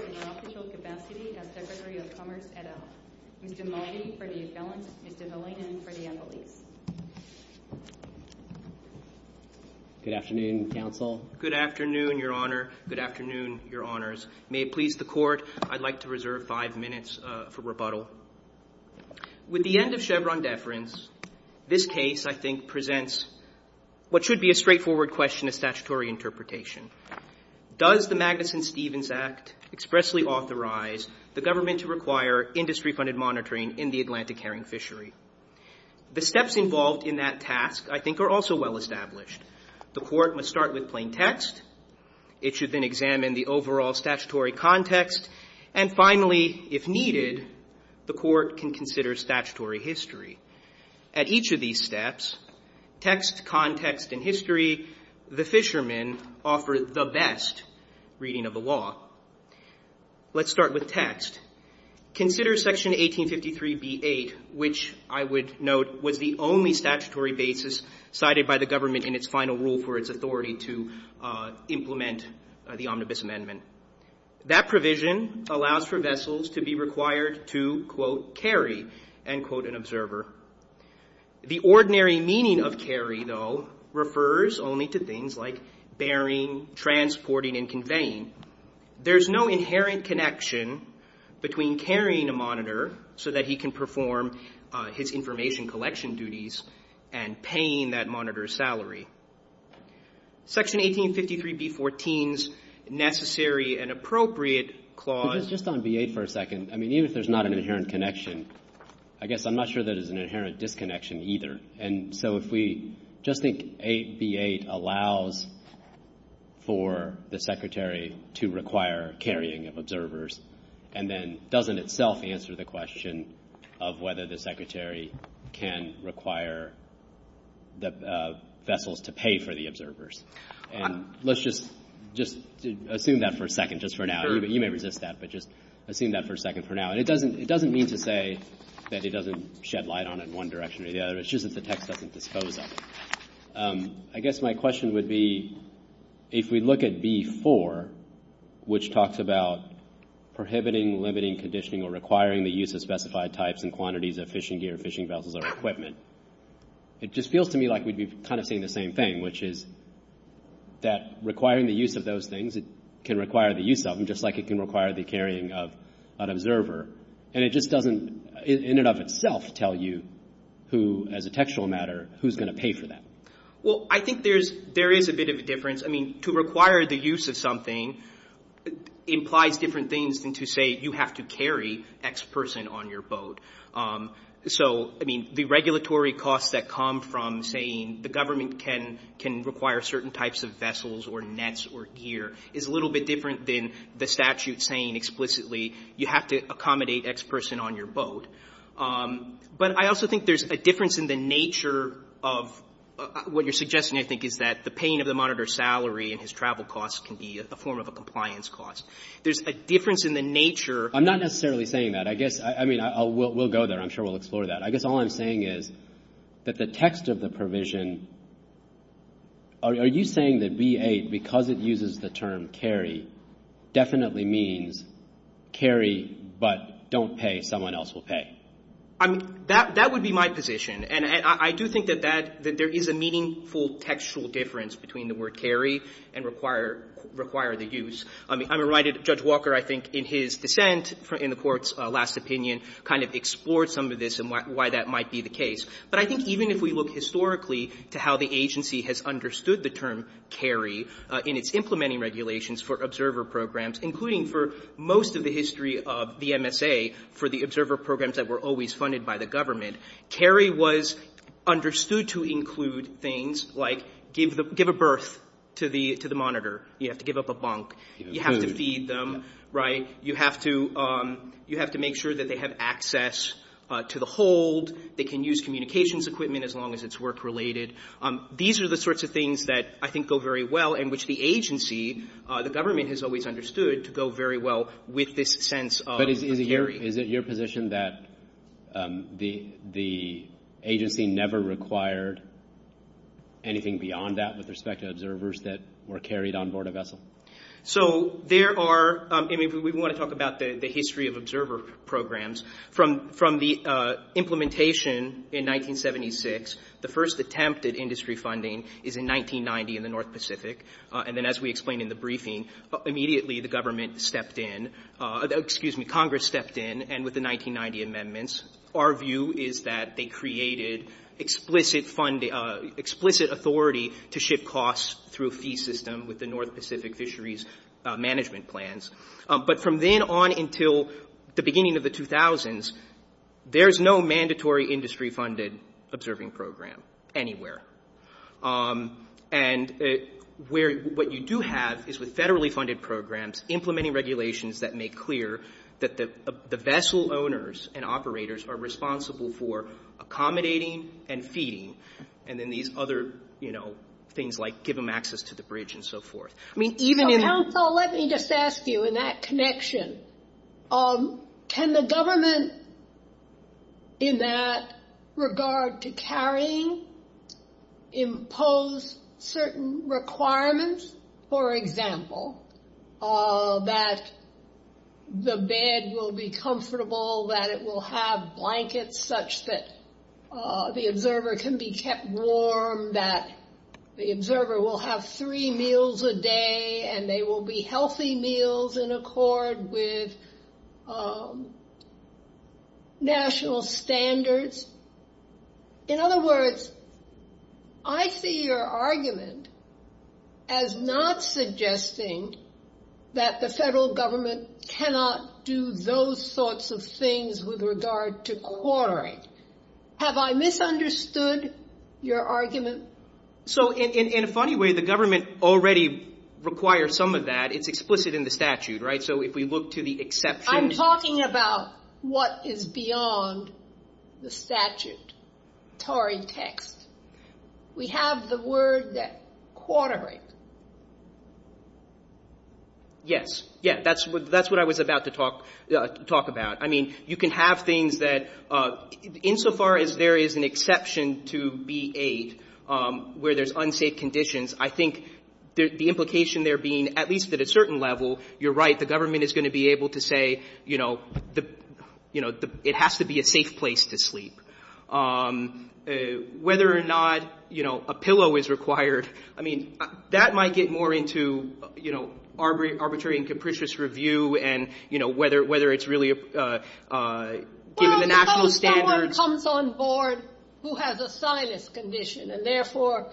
in the official capacity as Secretary of Commerce, et al., Mr. Mulvey, for the assailant and Mr. Mullaney, for the attorney. Good afternoon, Counsel. Good afternoon, Your Honor. Good afternoon, Your Honors. May it please the Court, I'd like to reserve five minutes for rebuttal. With the end of Chevron deference, this case, I think, presents what should be a straightforward question of statutory interpretation. Does the Magnuson-Stevens Act expressly authorize the government to require industry-funded monitoring in the Atlantic herring fishery? The steps involved in that task, I think, are also well established. The Court must start with plain text. It should then examine the overall statutory context. And finally, if needed, the Court can consider statutory history. At each of these steps, text, context, and history, the fishermen offer the best reading of the law. Let's start with text. Consider Section 1853b-8, which I would note was the only statutory basis cited by the government in its final rule for its authority to implement the Omnibus Amendment. That provision allows for vessels to be required to, quote, carry, end quote, an observer. The ordinary meaning of carry, though, refers only to things like bearing, transporting, and conveying. There's no inherent connection between carrying a monitor so that he can perform his information collection duties and paying that monitor's salary. Section 1853b-14's necessary and appropriate clause... Just on b-8 for a second. I mean, even if there's not an inherent connection, I guess I'm not sure that it's an inherent disconnection either. And so if we just think 8b-8 allows for the Secretary to require carrying of observers, and then doesn't itself answer the question of whether the Secretary can require vessels to pay for the observers. And let's just assume that for a second just for now. You may resist that, but just assume that for a second for now. It doesn't mean to say that it doesn't shed light on it in one direction or the other. It's just that the text doesn't dispose of it. I guess my question would be if we look at b-4, which talks about prohibiting, limiting, conditioning, or requiring the use of specified types and quantities of fishing gear, fishing vessels, or equipment. It just feels to me like we'd be kind of saying the same thing, which is that requiring the use of those things can require the use of them, just like it can require the carrying of an observer. And it just doesn't in and of itself tell you who, as a textual matter, who's going to pay for that. Well, I think there is a bit of a difference. I mean, to require the use of something implies different things than to say you have to carry X person on your boat. So, I mean, the regulatory costs that come from saying the government can require certain types of vessels or nets or gear is a little bit different than the statute saying explicitly you have to accommodate X person on your boat. But I also think there's a difference in the nature of what you're suggesting, I think, is that the pain of the monitor's salary and his travel costs can be a form of a compliance cost. There's a difference in the nature of... I'm not necessarily saying that. I guess, I mean, we'll go there. I'm sure we'll explore that. I guess all I'm saying is that the text of the provision, are you saying that V-8, because it uses the term carry, definitely means carry but don't pay, someone else will pay? That would be my position. And I do think that there is a meaningful textual difference between the word carry and require the use. I'm reminded that Judge Walker, I think, in his dissent in the court's last opinion, kind of explored some of this and why that might be the case. But I think even if we look historically to how the agency has understood the term carry in its implementing regulations for observer programs, including for most of the history of the MSA, for the observer programs that were always funded by the government, carry was understood to include things like give a birth to the monitor. You have to give up a bunk. You have to feed them. You have to make sure that they have access to the hold. They can use communications equipment as long as it's work related. These are the sorts of things that I think go very well in which the agency, the government, has always understood to go very well with this sense of carry. Is it your position that the agency never required anything beyond that with respect to observers that were carried on board a vessel? So there are, I mean, we want to talk about the history of observer programs. From the implementation in 1976, the first attempt at industry funding is in 1990 in the North Pacific. And then as we explained in the briefing, immediately the government stepped in, excuse me, Congress stepped in and with the 1990 amendments, our view is that they created explicit authority to ship costs through a fee system with the North Pacific Fisheries Management Plans. But from then on until the beginning of the 2000s, there's no mandatory industry funded observing program anywhere. And what you do have is with federally funded programs, implementing regulations that make clear that the vessel owners and operators are responsible for accommodating and feeding and then these other things like give them access to the bridge and so forth. Council, let me just ask you in that connection, can the government in that regard to carrying impose certain requirements? For example, that the bed will be comfortable, that it will have blankets such that the observer can be kept warm, that the observer will have three meals a day and they will be healthy meals in accord with national standards. In other words, I see your argument as not suggesting that the federal government cannot do those sorts of things with regard to quartering. Have I misunderstood your argument? So in a funny way, the government already requires some of that. It's explicit in the statute, right? So if we look to the exception. I'm talking about what is beyond the statute, TORI text. We have the word that quartering. Yes. Yeah, that's what I was about to talk about. I mean, you can have things that insofar as there is an exception to B-8 where there's unsafe conditions, I think the implication there being at least at a certain level, you're right, the government is going to be able to say, you know, it has to be a safe place to sleep. Whether or not, you know, a pillow is required, I mean, that might get more into, you know, arbitrary and capricious review and, you know, whether it's really given the national standards. Well, if someone comes on board who has a sinus condition and therefore,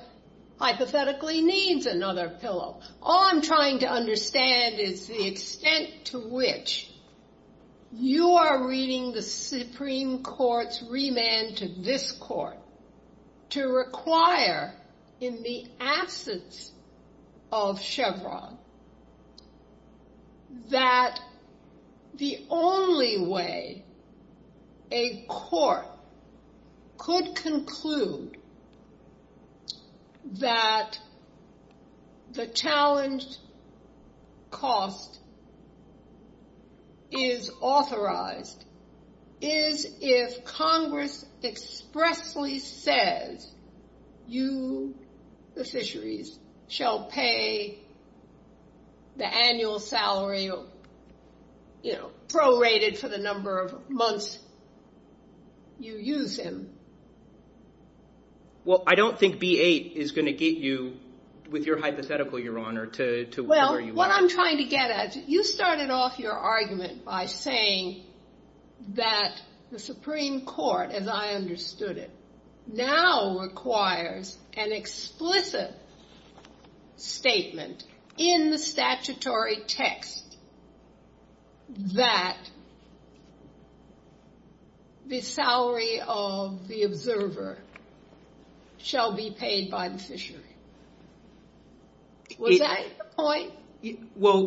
hypothetically, needs another pillow. All I'm trying to understand is the extent to which you are reading the Supreme Court's remand to this court to require in the absence of Chevron that the only way a court could conclude that the challenged cost is authorized is if Congress expressly says you, the fisheries, shall pay the annual salary, you know, prorated for the number of months you use him. Well, I don't think B-8 is going to get you with your hypothetical, Your Honor, to where you are. Well,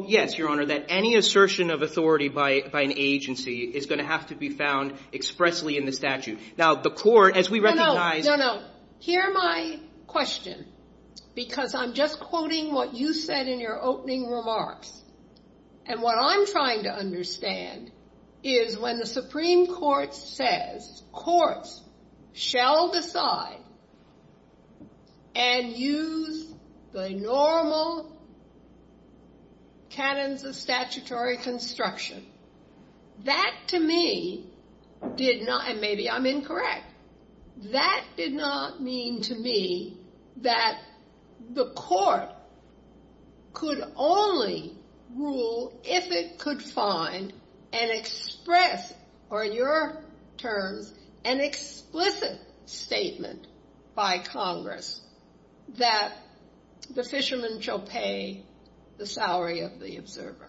yes, Your Honor, that any assertion of authority by an agency is going to have to be found expressly in the statute. Now, the court, as we recognize- No, no, no, no. Hear my question because I'm just quoting what you said in your opening remarks. And what I'm trying to understand is when the Supreme Court says courts shall decide and use the normal tenets of statutory construction, that to me did not, and maybe I'm incorrect, that did not mean to me that the court could only rule if it could find and express, or in your terms, an explicit statement by Congress that the fishermen shall pay the salary of the observer.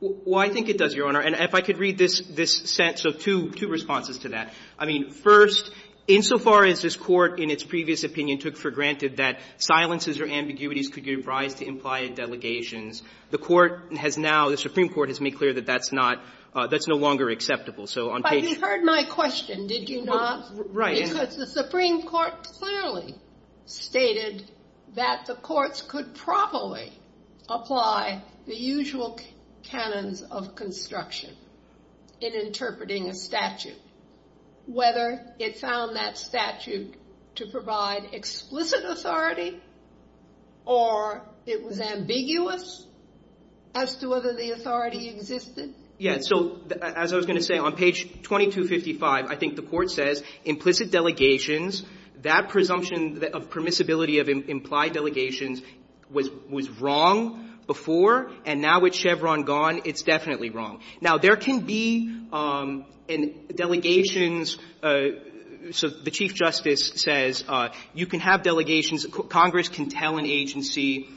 Well, I think it does, Your Honor, and if I could read this sense of two responses to that. I mean, first, insofar as this court in its previous opinion took for granted that silences or ambiguities could give rise to implied delegations, the Supreme Court has made clear that that's no longer acceptable. But you heard my question, did you not? Right. Because the Supreme Court clearly stated that the courts could probably apply the usual tenets of construction in interpreting a statute, whether it found that statute to provide explicit authority or it was ambiguous as to whether the authority existed. Yeah, so as I was going to say, on page 2255, I think the court says implicit delegations, that presumption of permissibility of implied delegations was wrong before, and now with Chevron gone, it's definitely wrong. Now, there can be delegations, so the Chief Justice says you can have delegations, Congress can tell an agency,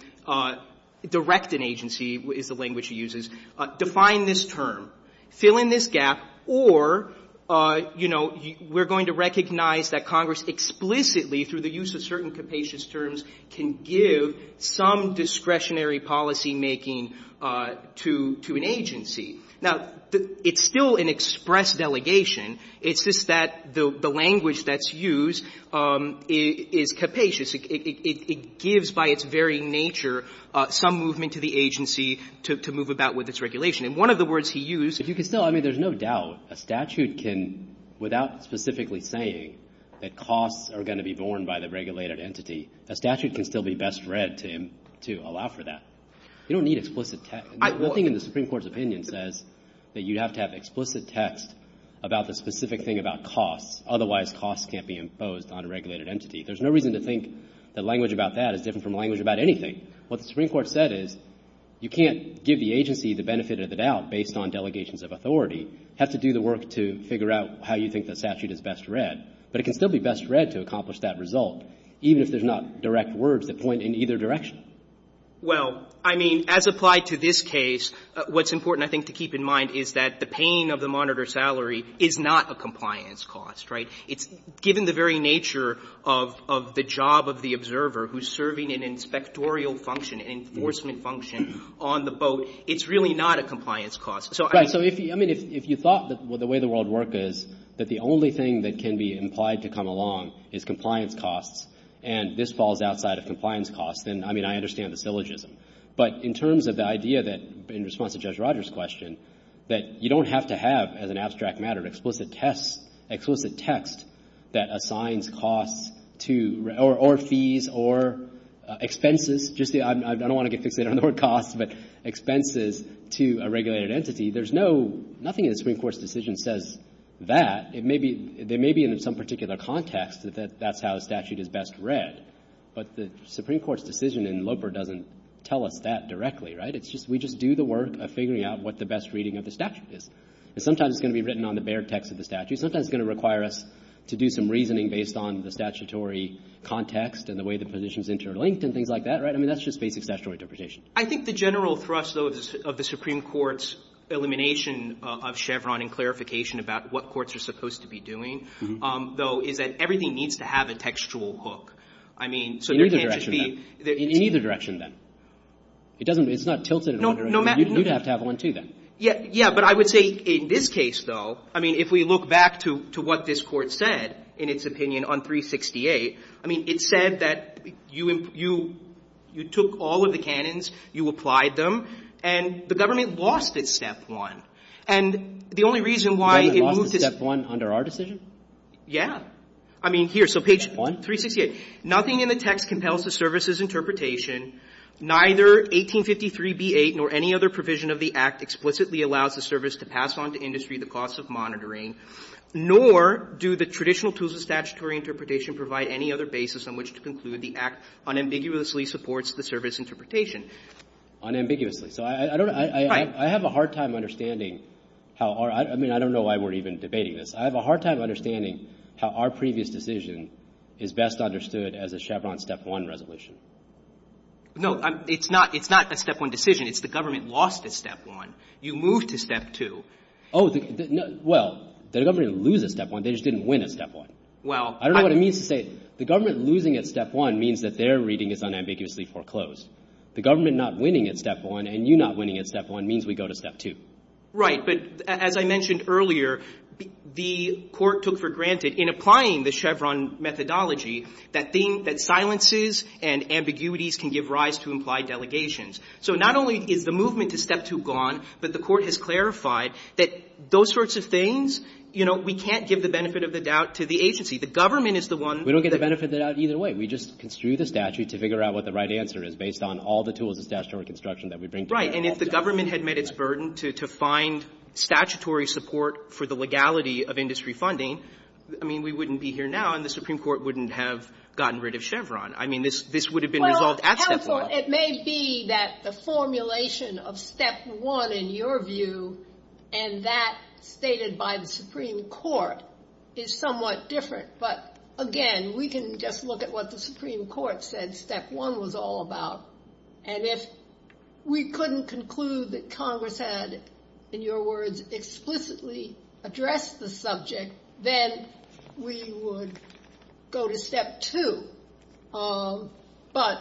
direct an agency is the language he uses, define this term, fill in this gap, or, you know, we're going to recognize that Congress explicitly through the use of certain capacious terms can give some discretionary policymaking to an agency. Now, it's still an express delegation, it's just that the language that's used is capacious, it gives by its very nature some movement to the agency to move about with its regulation. And one of the words he used… If you could still, I mean, there's no doubt a statute can, without specifically saying that costs are going to be borne by the regulated entity, a statute can still be best read to allow for that. You don't need explicit text. One thing in the Supreme Court's opinion says that you have to have explicit text about the specific thing about costs, otherwise costs can't be imposed on a regulated entity. There's no reason to think the language about that is different from the language about anything. What the Supreme Court said is you can't give the agency the benefit of the doubt based on delegations of authority. It has to do the work to figure out how you think the statute is best read, but it can still be best read to accomplish that result, even if there's not direct words that point in either direction. Well, I mean, as applied to this case, what's important, I think, to keep in mind is that the paying of the monitor salary is not a compliance cost, right? Given the very nature of the job of the observer who's serving an inspectorial function, an enforcement function on the boat, it's really not a compliance cost. Right, so if you thought the way the world worked is that the only thing that can be implied to come along is compliance costs, and this falls outside of compliance costs, then, I mean, I understand the syllogism. But in terms of the idea that, in response to Judge Rogers' question, that you don't have to have, as an abstract matter, an explicit test that assigns costs or fees or expenses. I don't want to get fixated on the word costs, but expenses to a regulated entity. There's nothing in the Supreme Court's decision that says that. There may be in some particular context that that's how a statute is best read, but the Supreme Court's decision in Loper doesn't tell us that directly, right? We just do the work of figuring out what the best reading of the statute is. Sometimes it's going to be written on the bare text of the statute. Sometimes it's going to require us to do some reasoning based on the statutory context and the way the positions interlinked and things like that, right? I mean, that's just basic statutory interpretation. I think the general thrust, though, of the Supreme Court's elimination of Chevron and clarification about what courts are supposed to be doing, though, is that everything needs to have a textual hook. I mean, so there can't just be... In either direction, then. It's not tilted in either direction. You'd have to have one, too, then. Yeah, but I would say, in this case, though, I mean, if we look back to what this court said, in its opinion, on 368, I mean, it said that you took all of the canons, you applied them, and the government lost it, step one. And the only reason why it moved it... The government lost it, step one, under our decision? Yeah. I mean, here, so page... Step one? 368. Nothing in the text compels the service's interpretation. Neither 1853b8 nor any other provision of the Act explicitly allows the service to pass on to industry the costs of monitoring, nor do the traditional tools of statutory interpretation provide any other basis on which to conclude the Act unambiguously supports the service interpretation. Unambiguously. So I don't... Right. I have a hard time understanding how our... I mean, I don't know why we're even debating this. I have a hard time understanding how our previous decision is best understood as a Chevron step one resolution. No, it's not a step one decision. It's the government lost it, step one. You moved to step two. Oh, well, the government loses step one. They just didn't win at step one. I don't know what it means to say... The government losing at step one means that their reading is unambiguously foreclosed. The government not winning at step one and you not winning at step one means we go to step two. Right, but as I mentioned earlier, the court took for granted, in applying the Chevron methodology, that silences and ambiguities can give rise to implied delegations. So not only is the movement to step two gone, but the court has clarified that those sorts of things, you know, we can't give the benefit of the doubt to the agency. The government is the one... We don't get the benefit of the doubt either way. We just construe the statute to figure out what the right answer is based on all the tools of statutory construction that we bring to the table. Right, and if the government had met its burden to find statutory support for the legality of industry funding, I mean, we wouldn't be here now and the Supreme Court wouldn't have gotten rid of Chevron. I mean, this would have been resolved at step one. It may be that the formulation of step one, in your view, and that stated by the Supreme Court, is somewhat different. But, again, we can just look at what the Supreme Court said step one was all about. And if we couldn't conclude that Congress had, in your words, explicitly addressed the subject, then we would go to step two. But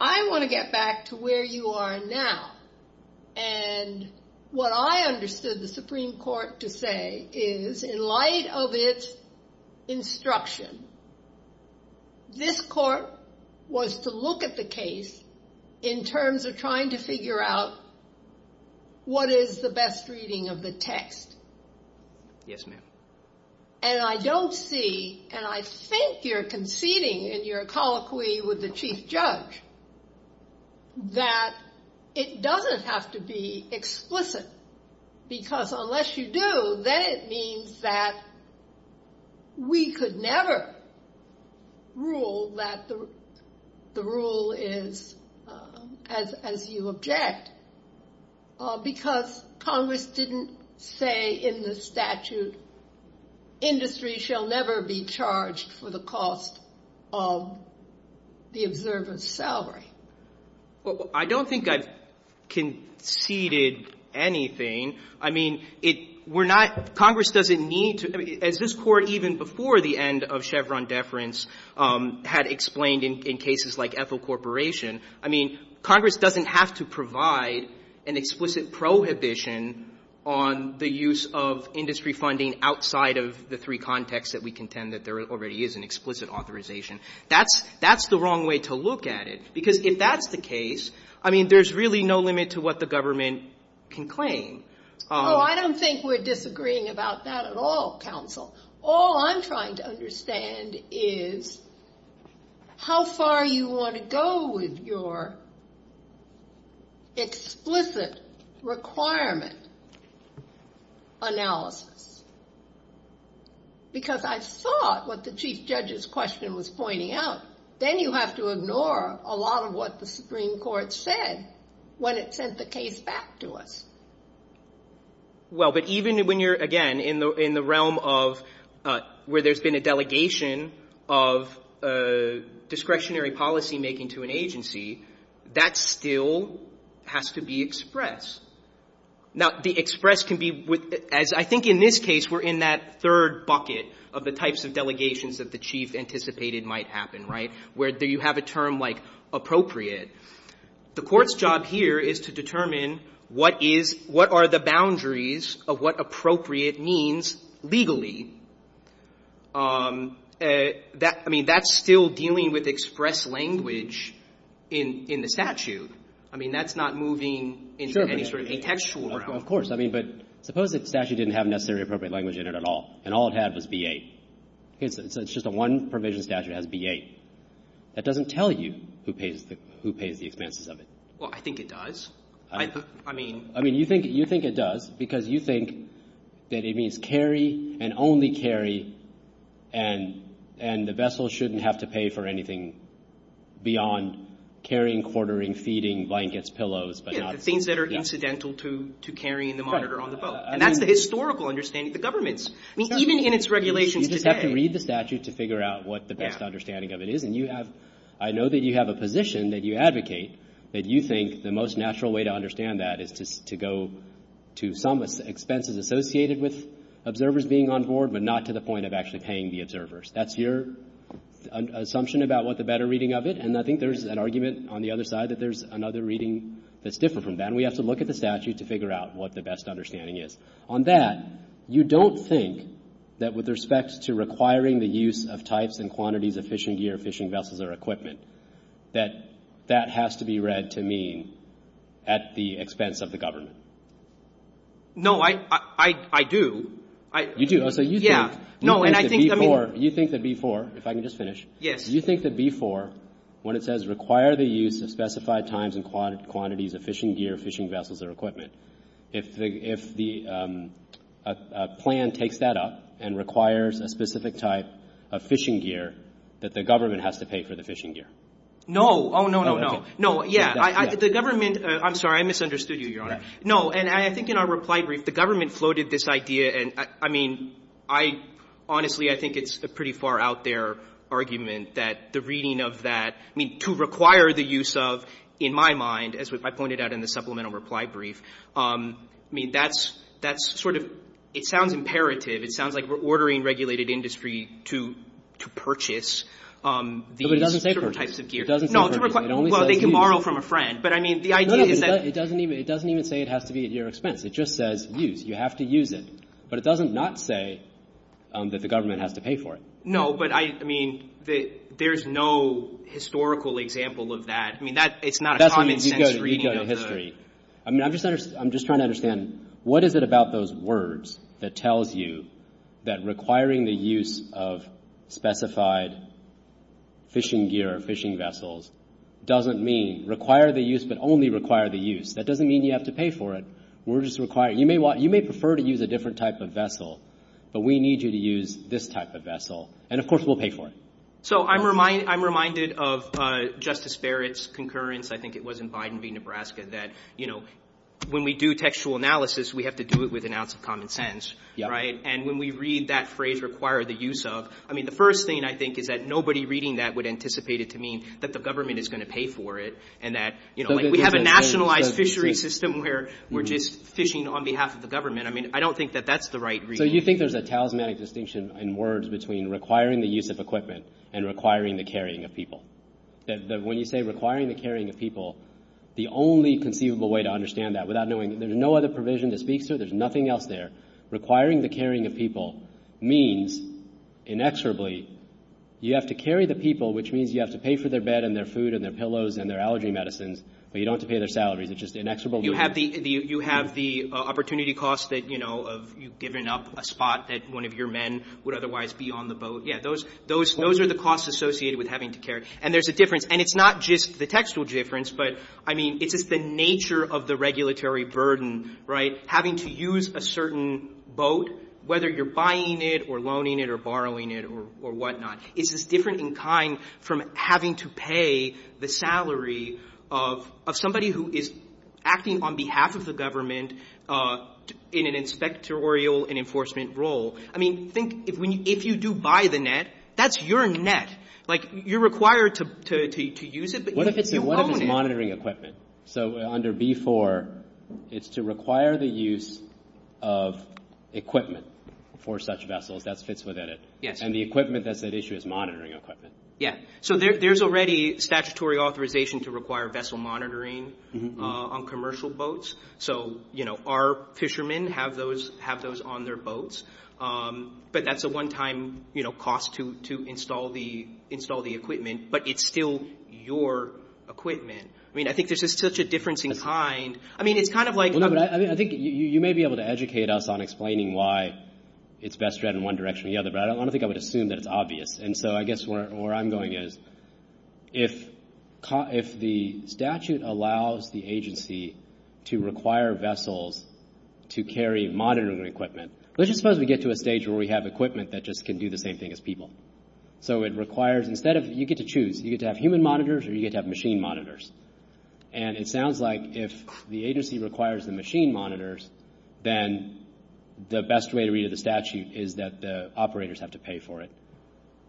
I want to get back to where you are now. And what I understood the Supreme Court to say is, in light of its instruction, this court was to look at the case in terms of trying to figure out what is the best reading of the text. Yes, ma'am. And I don't see, and I think you're conceding in your colloquy with the Chief Judge, that it doesn't have to be explicit. Because unless you do, then it means that we could never rule that the rule is as you object. Because Congress didn't say in the statute, industry shall never be charged for the cost of the observance salary. Well, I don't think I've conceded anything. I mean, Congress doesn't need to. As this court, even before the end of Chevron deference, had explained in cases like Ethel Corporation, I mean, Congress doesn't have to provide an explicit prohibition on the use of industry funding outside of the three contexts that we contend that there already is an explicit authorization. That's the wrong way to look at it. Because if that's the case, I mean, there's really no limit to what the government can claim. No, I don't think we're disagreeing about that at all, counsel. All I'm trying to understand is how far you want to go with your explicit requirement analysis. Because I thought what the Chief Judge's question was pointing out, then you have to ignore a lot of what the Supreme Court said when it sent the case back to us. Well, but even when you're, again, in the realm of where there's been a delegation of discretionary policymaking to an agency, that still has to be expressed. Now, the express can be, as I think in this case, we're in that third bucket of the types of delegations that the Chief anticipated might happen, right, where you have a term like appropriate. The court's job here is to determine what are the boundaries of what appropriate means legally. I mean, that's still dealing with expressed language in the statute. I mean, that's not moving into any sort of contextual. Of course. I mean, but suppose the statute didn't have necessarily appropriate language in it at all, and all it has is B-8. It's just the one provision statute that has B-8. That doesn't tell you who pays the expenses of it. Well, I think it does. I mean, you think it does because you think that it means carry and only carry, and the vessel shouldn't have to pay for anything beyond carrying, quartering, feeding, blankets, pillows. Yeah, the things that are incidental to carrying the monitor on the boat. And that's the historical understanding of the governments. I mean, even in its regulation today. You have to read the statute to figure out what the best understanding of it is, and I know that you have a position that you advocate that you think the most natural way to understand that is to go to some expenses associated with observers being on board, but not to the point of actually paying the observers. That's your assumption about what the better reading of it, and I think there's an argument on the other side that there's another reading that's different from that, and we have to look at the statute to figure out what the best understanding is. On that, you don't think that with respect to requiring the use of types and quantities of fishing gear, fishing vessels, or equipment, that that has to be read to mean at the expense of the government? No, I do. You do? Yeah. You think that before, if I can just finish. Yes. You think that before when it says require the use of specified times and quantities of fishing gear, fishing vessels, or equipment, if the plan takes that up and requires a specific type of fishing gear, that the government has to pay for the fishing gear? No. Oh, no, no, no. No, yeah. The government. I'm sorry. I misunderstood you, Your Honor. No, and I think in our reply brief, the government floated this idea, and I mean, honestly, I think it's a pretty far out there argument that the reading of that, I mean, to require the use of, in my mind, as I pointed out in the supplemental reply brief, I mean, that's sort of, it sounds imperative. It sounds like we're ordering regulated industry to purchase these types of gear. Well, they can borrow from a friend. No, it doesn't even say it has to be at your expense. It just says use. You have to use it. But it doesn't not say that the government has to pay for it. No, but I mean, there's no historical example of that. That's when you go to history. I mean, I'm just trying to understand, what is it about those words that tells you that requiring the use of specified fishing gear or fishing vessels doesn't mean require the use but only require the use? That doesn't mean you have to pay for it. We're just requiring. You may prefer to use a different type of vessel, but we need you to use this type of vessel, and, of course, we'll pay for it. So I'm reminded of Justice Barrett's concurrence. I think it was in Biden v. Nebraska that, you know, when we do textual analysis, we have to do it with an ounce of common sense, right? And when we read that phrase require the use of, I mean, the first thing I think is that nobody reading that would anticipate it to mean that the government is going to pay for it and that, you know, we have a nationalized fishery system where we're just fishing on behalf of the government. I mean, I don't think that that's the right reading. So you think there's a talismanic distinction in words between requiring the use of equipment and requiring the carrying of people, that when you say requiring the carrying of people, the only conceivable way to understand that without knowing it, there's no other provision to speak to, there's nothing else there. Requiring the carrying of people means inexorably you have to carry the people, which means you have to pay for their bed and their food and their pillows and their allergy medicines, but you don't have to pay their salary. It's just inexorably. You have the opportunity cost that, you know, you've given up a spot that one of your men would otherwise be on the boat. Yeah, those are the costs associated with having to carry. And there's a difference, and it's not just the textual difference, but, I mean, it's just the nature of the regulatory burden, right, having to use a certain boat, whether you're buying it or loaning it or borrowing it or whatnot. It's just different in kind from having to pay the salary of somebody who is acting on behalf of the government in an inspectorial and enforcement role. I mean, think, if you do buy the net, that's your net. Like, you're required to use it. What if it's monitoring equipment? So under B-4, it's to require the use of equipment for such vessel that fits within it. Yes. And the equipment that's at issue is monitoring equipment. Yes. So there's already statutory authorization to require vessel monitoring on commercial boats. So, you know, our fishermen have those on their boats, but that's a one-time cost to install the equipment, but it's still your equipment. I mean, I think there's just such a difference in kind. I mean, it's kind of like... I think you may be able to educate us on explaining why it's best to add in one direction or the other, but I don't want to think I would assume that it's obvious. And so I guess where I'm going is if the statute allows the agency to require vessels to carry monitoring equipment, let's just suppose we get to a stage where we have equipment that just can do the same thing as people. So it requires, instead of, you get to choose. You get to have human monitors or you get to have machine monitors. And it sounds like if the agency requires the machine monitors, then the best way to read the statute is that the operators have to pay for it.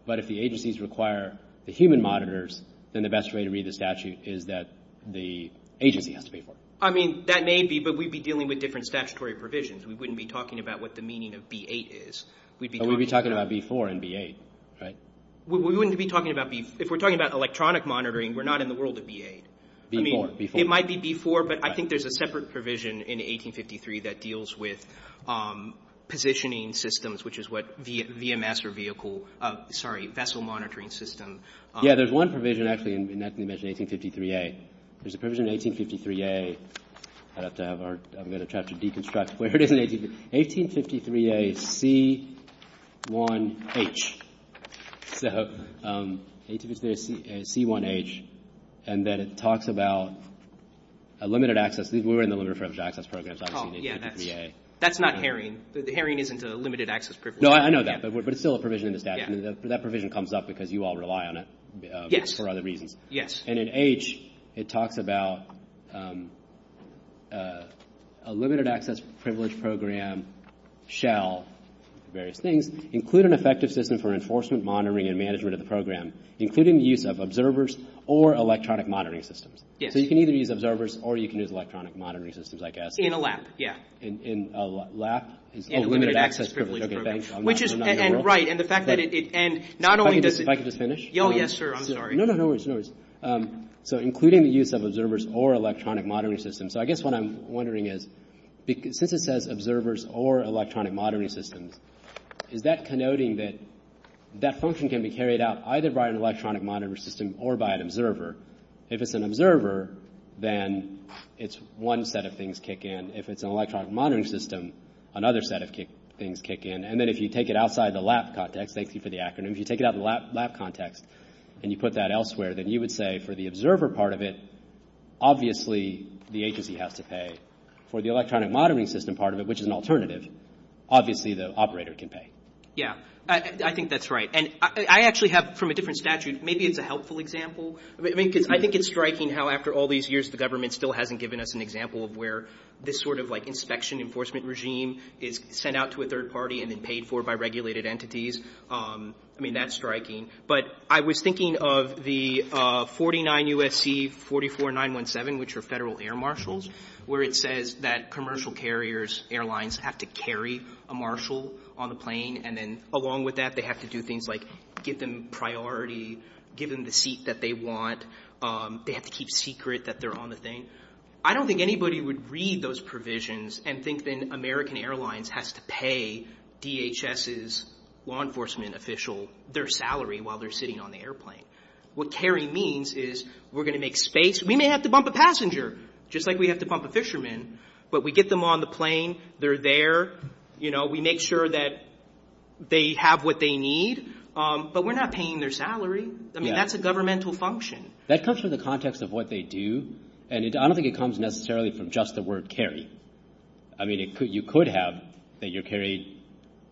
But if the agencies require the human monitors, then the best way to read the statute is that the agency has to pay for it. I mean, that may be, but we'd be dealing with different statutory provisions. We wouldn't be talking about what the meaning of B-8 is. But we'd be talking about B-4 and B-8, right? We wouldn't be talking about B... If we're talking about electronic monitoring, we're not in the world of B-8. B-4, B-4. B-4, but I think there's a separate provision in 1853 that deals with positioning systems, which is what VMS or vehicle, sorry, vessel monitoring system. Yeah, there's one provision, actually, in 1853A. There's a provision in 1853A that I'm going to have to deconstruct. 1853A, C1H. So, 1853A, C1H, and then it talks about a limited access. We were in the limited access program. Oh, yeah, that's not Herring. Herring isn't a limited access program. No, I know that, but it's still a provision in the statute. That provision comes up because you all rely on it for other reasons. Yes, yes. And in H, it talks about a limited access privilege program shall, various things, include an effective system for enforcement, monitoring, and management of the program, including the use of observers or electronic monitoring systems. So, you can either use observers or you can use electronic monitoring systems, I guess. In a lab, yeah. In a lab? In a limited access privilege program. Okay, thanks. Which is, and right, and the fact that it, and not only does... If I could just finish? Oh, yes, sir, I'm sorry. No, no, no worries, no worries. So, including the use of observers or electronic monitoring systems. So, I guess what I'm wondering is, since it says observers or electronic monitoring systems, is that connoting that that function can be carried out either by an electronic monitoring system or by an observer? If it's an observer, then it's one set of things kick in. If it's an electronic monitoring system, another set of things kick in. And then if you take it outside the lab context, thank you for the acronym, if you take it out of the lab context and you put that elsewhere, then you would say for the observer part of it, obviously the agency has to pay. For the electronic monitoring system part of it, which is an alternative, obviously the operator can pay. Yeah, I think that's right. And I actually have, from a different statute, maybe it's a helpful example. I mean, because I think it's striking how after all these years, the government still hasn't given us an example of where this sort of like inspection enforcement regime is sent out to a third party and then paid for by regulated entities. I mean, that's striking. But I was thinking of the 49 U.S.C. 44917, which are federal air marshals, where it says that commercial carriers, airlines, have to carry a marshal on the plane and then along with that they have to do things like give them priority, give them the seat that they want, they have to keep secret that they're on the thing. I don't think anybody would read those provisions and think then American Airlines has to pay DHS's law enforcement official their salary while they're sitting on the airplane. What carry means is we're going to make space. We may have to bump a passenger, just like we have to bump a fisherman, but we get them on the plane, they're there, you know, we make sure that they have what they need. But we're not paying their salary. I mean, that's a governmental function. That comes from the context of what they do. And I don't think it comes necessarily from just the word carry. I mean, you could have that you're carried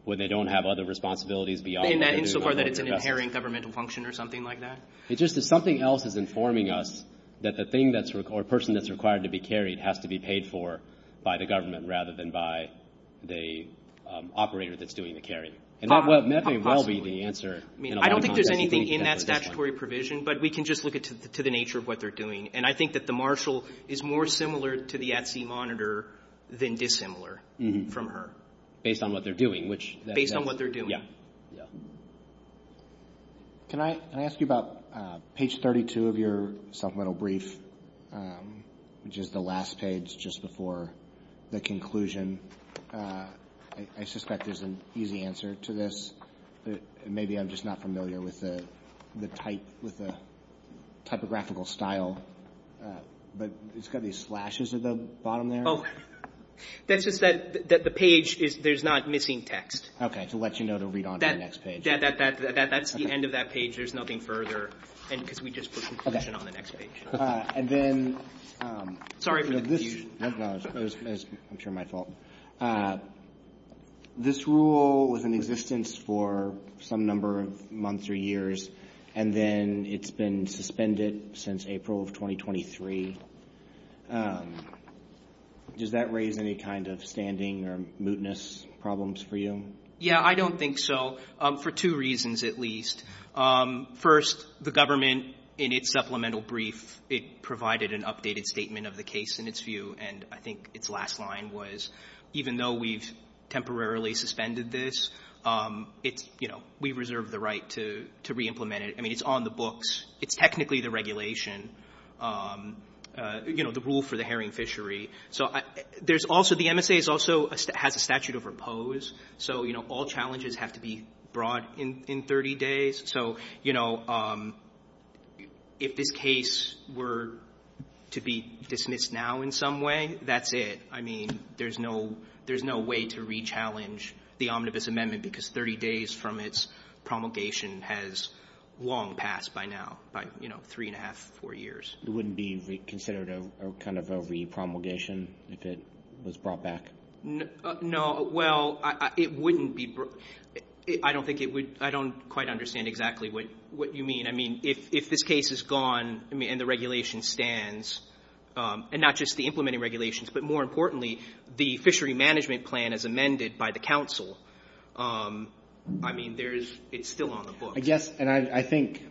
when they don't have other responsibilities beyond that. In that instance that it's an inherent governmental function or something like that? It's just that something else is informing us that the person that's required to be carried has to be paid for by the government rather than by the operator that's doing the carrying. And that may well be the answer. I don't think there's anything in that statutory provision, but we can just look at it to the nature of what they're doing. And I think that the marshal is more similar to the at-sea monitor than dissimilar from her. Based on what they're doing. Based on what they're doing. Yeah. Can I ask you about page 32 of your supplemental brief, which is the last page just before the conclusion? I suspect there's an easy answer to this. Maybe I'm just not familiar with the typographical style. But it's got these flashes at the bottom there. That's just that the page, there's not missing text. Okay. To let you know to read on to the next page. That's the end of that page. There's nothing further. And because we just put conclusion on the next page. Sorry for the confusion. I'm sure my fault. This rule was in existence for some number of months or years, and then it's been suspended since April of 2023. Does that raise any kind of standing or mootness problems for you? Yeah, I don't think so. For two reasons, at least. First, the government, in its supplemental brief, it provided an updated statement of the case in its view. And I think its last line was, even though we've temporarily suspended this, we reserve the right to reimplement it. I mean, it's on the books. It's technically the regulation. You know, the rule for the herring fishery. So, there's also, the MSA also has a statute of repose. So, you know, all challenges have to be brought in 30 days. So, you know, if the case were to be dismissed now in some way, that's it. I mean, there's no way to re-challenge the omnibus amendment, because 30 days from its promulgation has long passed by now, by, you know, three and a half, four years. It wouldn't be considered kind of a re-promulgation if it was brought back? No. Well, it wouldn't be. I don't think it would. I don't quite understand exactly what you mean. I mean, if this case is gone and the regulation stands, and not just the implementing regulations, but more importantly, the fishery management plan as amended by the council, I mean, it's still on the books. Yes, and I think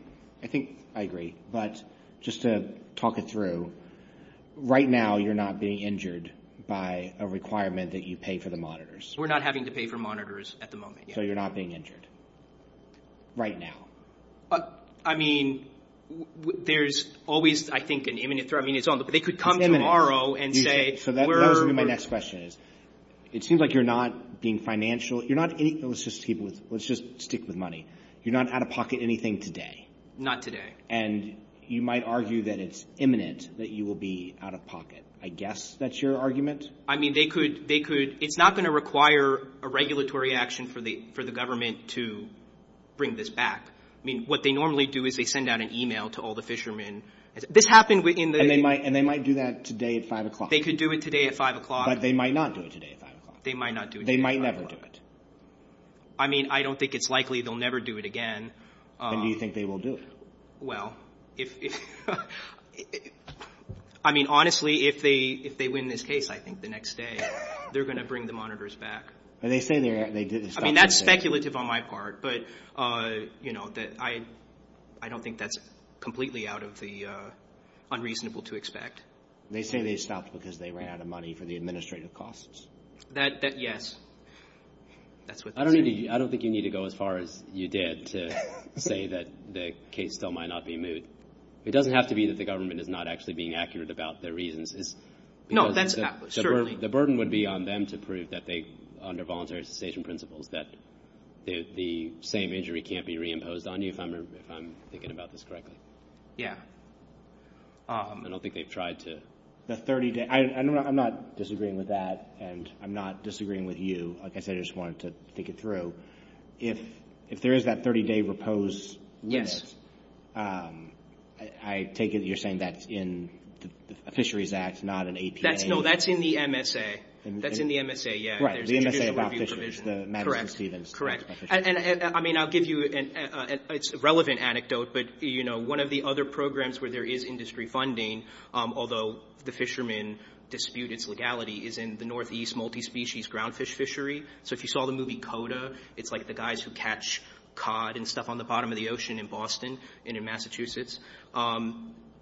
I agree. But just to talk it through, right now you're not being injured by a requirement that you pay for the monitors. We're not having to pay for monitors at the moment. So, you're not being injured right now? I mean, there's always, I think, an imminent threat. I mean, it's on the books. So, my next question is, it seems like you're not being financial. Let's just stick with money. You're not out of pocket anything today? Not today. And you might argue that it's imminent that you will be out of pocket. I guess that's your argument? I mean, it's not going to require a regulatory action for the government to bring this back. I mean, what they normally do is they send out an email to all the fishermen. And they might do that today at 5 o'clock. They could do it today at 5 o'clock. But they might not do it today at 5 o'clock. They might not do it today at 5 o'clock. They might never do it. I mean, I don't think it's likely they'll never do it again. And do you think they will do it? Well, I mean, honestly, if they win this case, I think, the next day, they're going to bring the monitors back. And they say they're going to do it the next day. I mean, that's speculative on my part. But, you know, I don't think that's completely out of the unreasonable to expect. They say they stopped because they ran out of money for the administrative costs. That, yes. I don't think you need to go as far as you did to say that the case still might not be moved. It doesn't have to be that the government is not actually being accurate about their reasons. No, that's not. The burden would be on them to prove that they, under voluntary cessation principles, that the same injury can't be reimposed on you, if I'm thinking about this correctly. Yeah. I don't think they've tried to. I'm not disagreeing with that, and I'm not disagreeing with you. I just wanted to think it through. If there is that 30-day repose list, I take it you're saying that's in the Fisheries Act, not in APA. No, that's in the MSA. That's in the MSA, yeah. Correct. And, I mean, I'll give you a relevant anecdote, but, you know, one of the other programs where there is industry funding, although the fishermen dispute its legality, is in the Northeast Multispecies Groundfish Fishery. So, if you saw the movie Coda, it's like the guys who catch cod and stuff on the bottom of the ocean in Boston and in Massachusetts.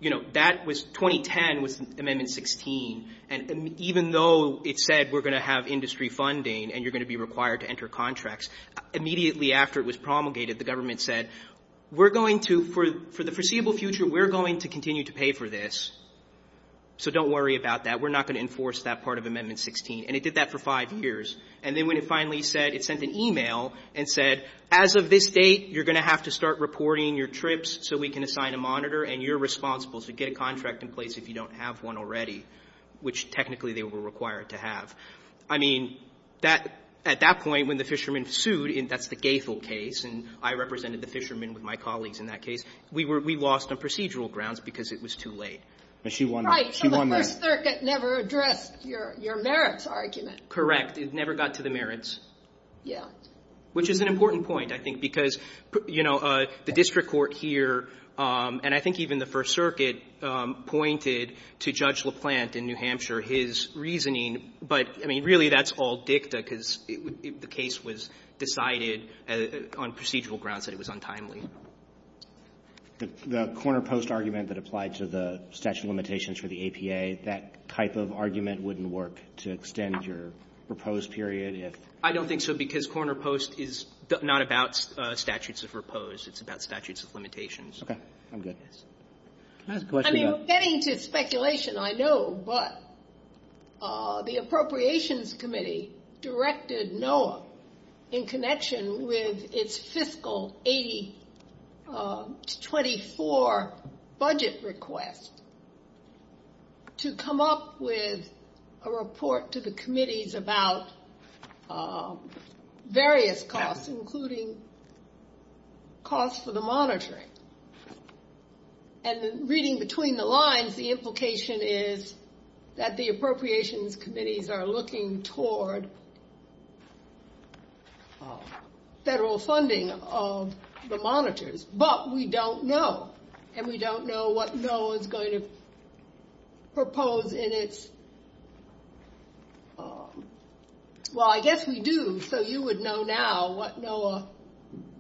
You know, that was 2010 with Amendment 16, and even though it said we're going to have industry funding and you're going to be required to enter contracts, immediately after it was promulgated, the government said, we're going to, for the foreseeable future, we're going to continue to pay for this, so don't worry about that. We're not going to enforce that part of Amendment 16, and it did that for five years. And then when it finally said, it sent an email and said, as of this date, you're going to have to start reporting your trips so we can assign a monitor, and you're responsible to get a contract in place if you don't have one already, which, technically, they were required to have. I mean, at that point, when the fishermen sued, and that's the Gaithel case, and I represented the fishermen with my colleagues in that case, we lost on procedural grounds because it was too late. She won that. Right, so the First Circuit never addressed your merits argument. Correct. It never got to the merits. Yeah. Which is an important point, I think, because the district court here, and I think even the First Circuit, pointed to Judge LaPlante in New Hampshire, his reasoning, but, I mean, really, that's all dicta because the case was decided on procedural grounds that it was untimely. The corner post argument that applied to the statute of limitations for the APA, that type of argument wouldn't work to extend your proposed period? I don't think so, because corner post is not about statutes of proposed. It's about statutes of limitations. Okay. I'm good. I mean, getting to speculation, I know, but the Appropriations Committee directed NOAA, in connection with its fiscal 80-24 budget request, to come up with a report to the committees about various costs, including costs for the monitoring. And reading between the lines, the implication is that the Appropriations Committees are looking toward federal funding of the monitors, but we don't know. And we don't know what NOAA is going to propose in its, well, I guess we do, so you would know now what NOAA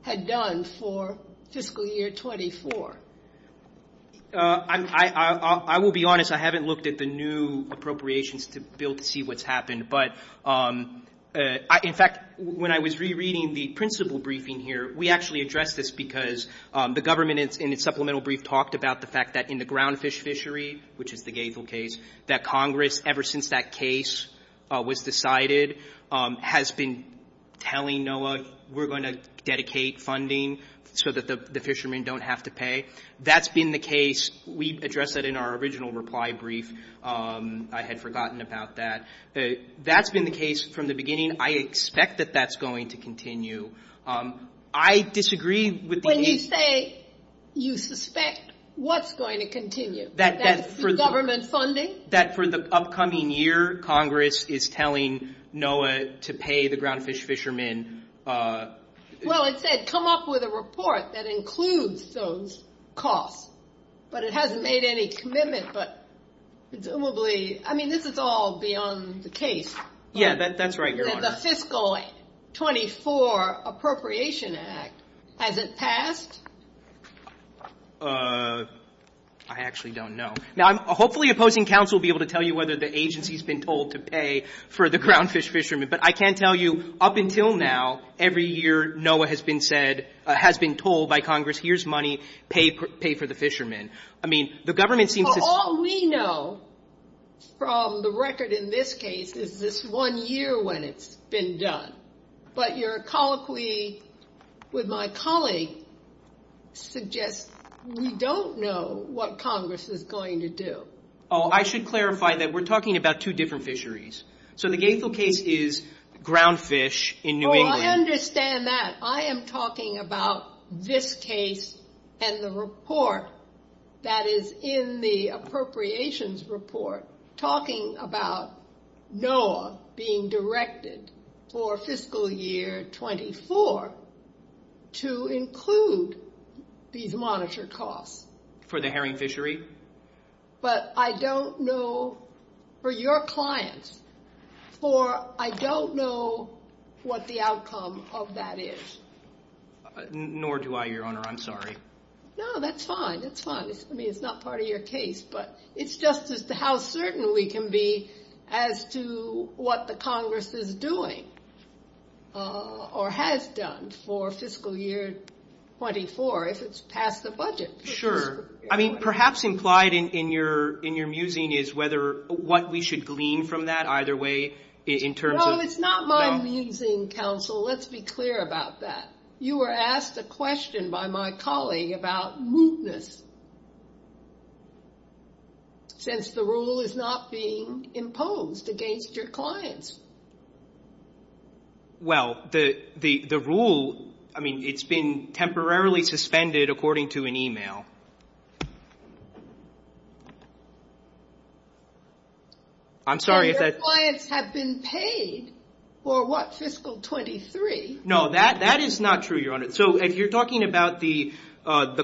had done for fiscal year 24. I will be honest. I haven't looked at the new appropriations to be able to see what's happened. But, in fact, when I was rereading the principal briefing here, we actually addressed this because the government, in its supplemental brief, talked about the fact that in the ground fish fishery, which is the gazel case, that Congress, ever since that case was decided, has been telling NOAA, we're going to dedicate funding so that the fishermen don't have to pay. That's been the case. We addressed that in our original reply brief. I had forgotten about that. That's been the case from the beginning. I expect that that's going to continue. I disagree with the case. When you say you suspect what's going to continue, that's the government funding? That for the upcoming year, Congress is telling NOAA to pay the ground fish fishermen. Well, it said come up with a report that includes those costs. But it hasn't made any commitment, but presumably, I mean, this is all beyond the case. Yeah, that's right, Your Honor. The fiscal 24 appropriation act, has it passed? I actually don't know. Now, hopefully opposing counsel will be able to tell you whether the agency's been told to pay for the ground fish fishermen, but I can tell you up until now, every year NOAA has been told by Congress, here's money, pay for the fishermen. I mean, the government seems to- All we know, from the record in this case, is this one year when it's been done. But your colloquy with my colleague suggests we don't know what Congress is going to do. I should clarify that we're talking about two different fisheries. So the Gainesville case is ground fish in New England. Oh, I understand that. But I am talking about this case and the report that is in the appropriations report, talking about NOAA being directed for fiscal year 24, to include these monitored costs. For the herring fishery? But I don't know, for your clients, for I don't know what the outcome of that is. Nor do I, Your Honor. I'm sorry. No, that's fine. That's fine. I mean, it's not part of your case, but it's just as to how certain we can be as to what the Congress is doing or has done for fiscal year 24, if it's past the budget. Sure. I mean, perhaps implied in your musing is what we should glean from that. Either way, in terms of- No, it's not my musing, counsel. Let's be clear about that. You were asked a question by my colleague about mootness, since the rule is not being imposed against your clients. Well, the rule, I mean, it's been temporarily suspended according to an email. I'm sorry if that's- Your clients have been paid for what, fiscal 23. No, that is not true, Your Honor. So you're talking about the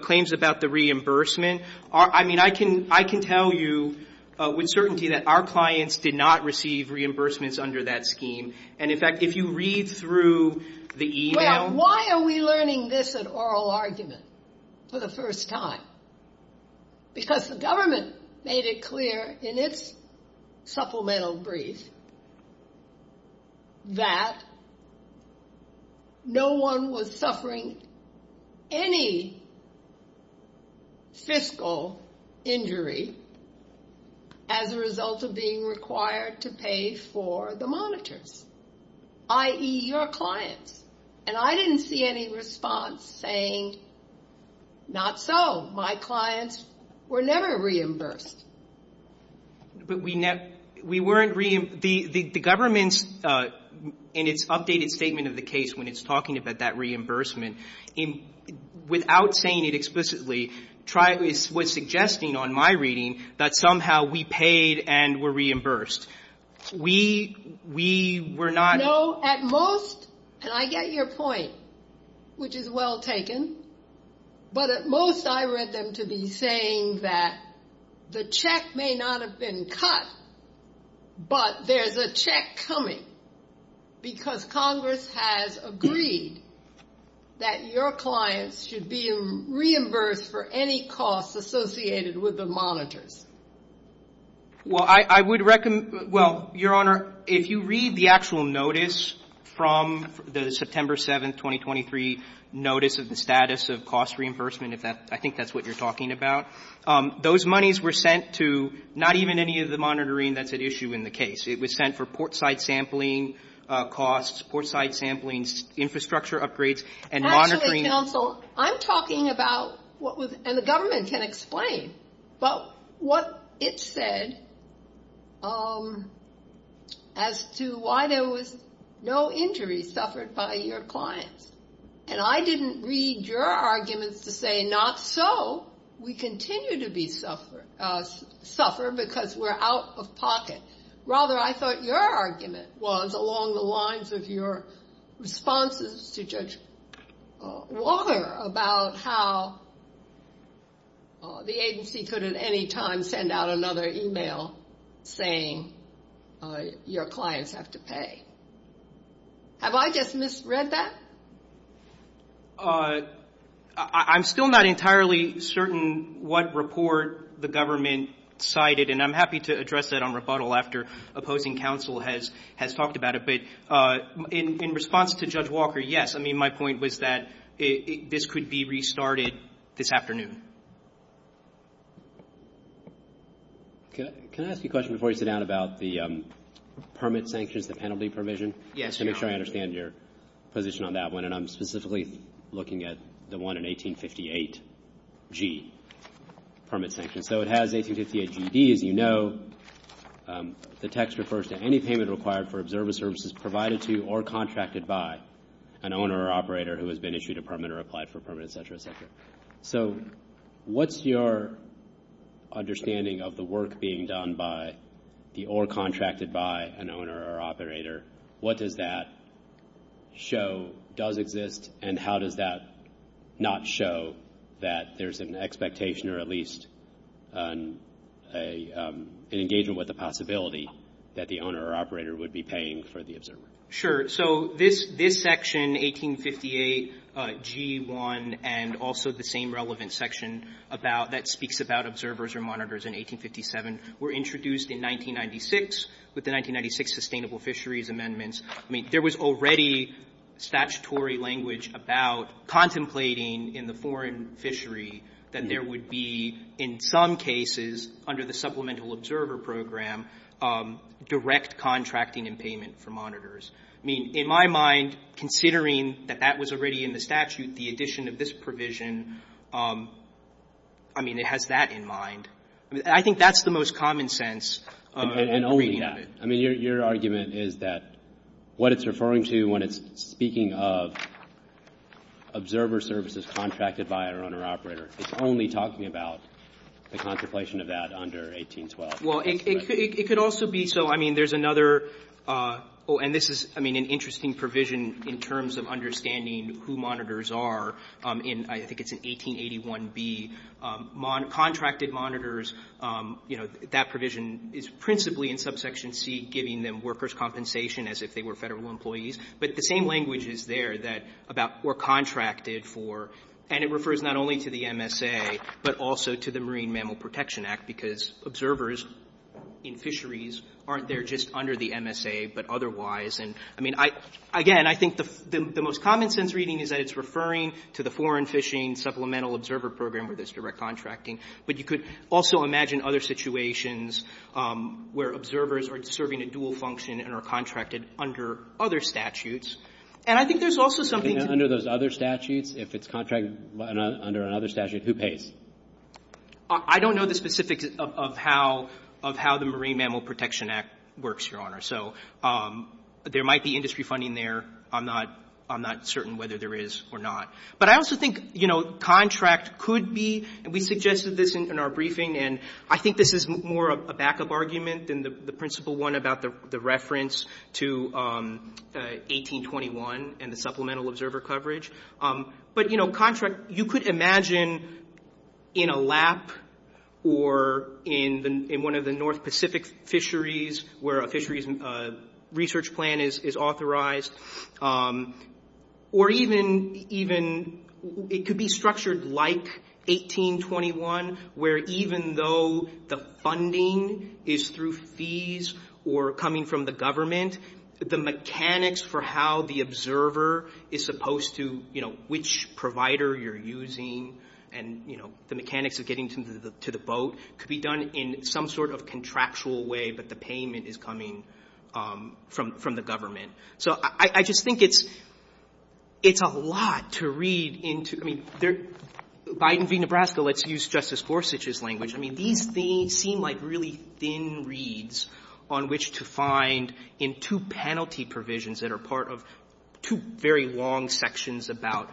claims about the reimbursement. I mean, I can tell you with certainty that our clients did not receive any reimbursements under that scheme. And, in fact, if you read through the email- Why are we learning this in oral argument for the first time? Because the government made it clear in its supplemental brief that no one was suffering any fiscal injury as a result of being required to pay for the monitors, i.e., your clients. And I didn't see any response saying, not so. My clients were never reimbursed. The government, in its updated statement of the case, when it's talking about that reimbursement, without saying it explicitly, was suggesting on my reading that somehow we paid and were reimbursed. We were not- No, at most, and I get your point, which is well taken, but at most I read them to be saying that the check may not have been cut, but there's a check coming because Congress has agreed that your clients should be reimbursed for any costs associated with the monitors. Well, I would recommend- Well, Your Honor, if you read the actual notice from the September 7, 2023, Notice of the Status of Cost Reimbursement, I think that's what you're talking about, those monies were sent to not even any of the monitoring that's at issue in the case. It was sent for portside sampling costs, portside sampling, infrastructure upgrades, and monitoring- As an example, I'm talking about what was- and the government can explain, but what it said as to why there was no injury suffered by your clients. And I didn't read your arguments to say, not so, we continue to suffer because we're out of pocket. Rather, I thought your argument was along the lines of your responses to Judge Walker about how the agency could at any time send out another e-mail saying your clients have to pay. Have I just misread that? I'm still not entirely certain what report the government cited, and I'm happy to address that on rebuttal after opposing counsel has talked about it, but in response to Judge Walker, yes. I mean, my point was that this could be restarted this afternoon. Can I ask a question before you sit down about the permit sanctions, the penalty provision? Yes, Your Honor. Just to make sure I understand your position on that one, and I'm specifically looking at the one in 1858G, permit sanctions. So it has 1858GD, as you know. The text refers to any payment required for observer services provided to or contracted by an owner or operator who has been issued a permit or applied for a permit, et cetera, et cetera. So what's your understanding of the work being done by or contracted by an owner or operator? What does that show does exist, and how does that not show that there's an expectation or at least an engagement with the possibility that the owner or operator would be paying for the observer? Sure. So this section, 1858G1, and also the same relevant section that speaks about observers or monitors in 1857, were introduced in 1996 with the 1996 sustainable fisheries amendments. I mean, there was already statutory language about contemplating in the foreign fishery that there would be, in some cases under the supplemental observer program, direct contracting and payment for monitors. I mean, in my mind, considering that that was already in the statute, the addition of this provision, I mean, it has that in mind. I think that's the most common sense. I mean, your argument is that what it's referring to when it's speaking of observer services contracted by an owner or operator, it's only talking about the contemplation of that under 1812. Well, it could also be. So, I mean, there's another. Oh, and this is, I mean, an interesting provision in terms of understanding who monitors are. I think it's an 1881B. Contracted monitors, you know, that provision is principally in subsection C, giving them workers' compensation as if they were federal employees, but the same language is there about who are contracted for, and it refers not only to the MSA, but also to the Marine Mammal Protection Act, because observers in fisheries aren't there just under the MSA, but otherwise. I mean, again, I think the most common sense reading is that it's referring to the foreign fishing supplemental observer program where there's direct contracting, but you could also imagine other situations where observers are serving a dual function and are contracted under other statutes, and I think there's also something. Under those other statutes, if it's contracted under another statute, who pays? I don't know the specifics of how the Marine Mammal Protection Act works, Your Honor, so there might be industry funding there. I'm not certain whether there is or not. But I also think, you know, contract could be, and we suggested this in our briefing, and I think this is more of a backup argument than the principal one about the reference to 1821 and the supplemental observer coverage. But, you know, contract, you could imagine in a lap or in one of the North Pacific fisheries where a fisheries research plan is authorized, or even it could be structured like 1821 where even though the funding is through fees or coming from the government, the mechanics for how the observer is supposed to, you know, which provider you're using and, you know, the mechanics of getting to the boat could be done in some sort of contractual way but the payment is coming from the government. So I just think it's a lot to read into. I mean, Biden v. Nebraska, let's use Justice Gorsuch's language. I mean, these seem like really thin reads on which to find in two penalty provisions that are part of two very long sections about,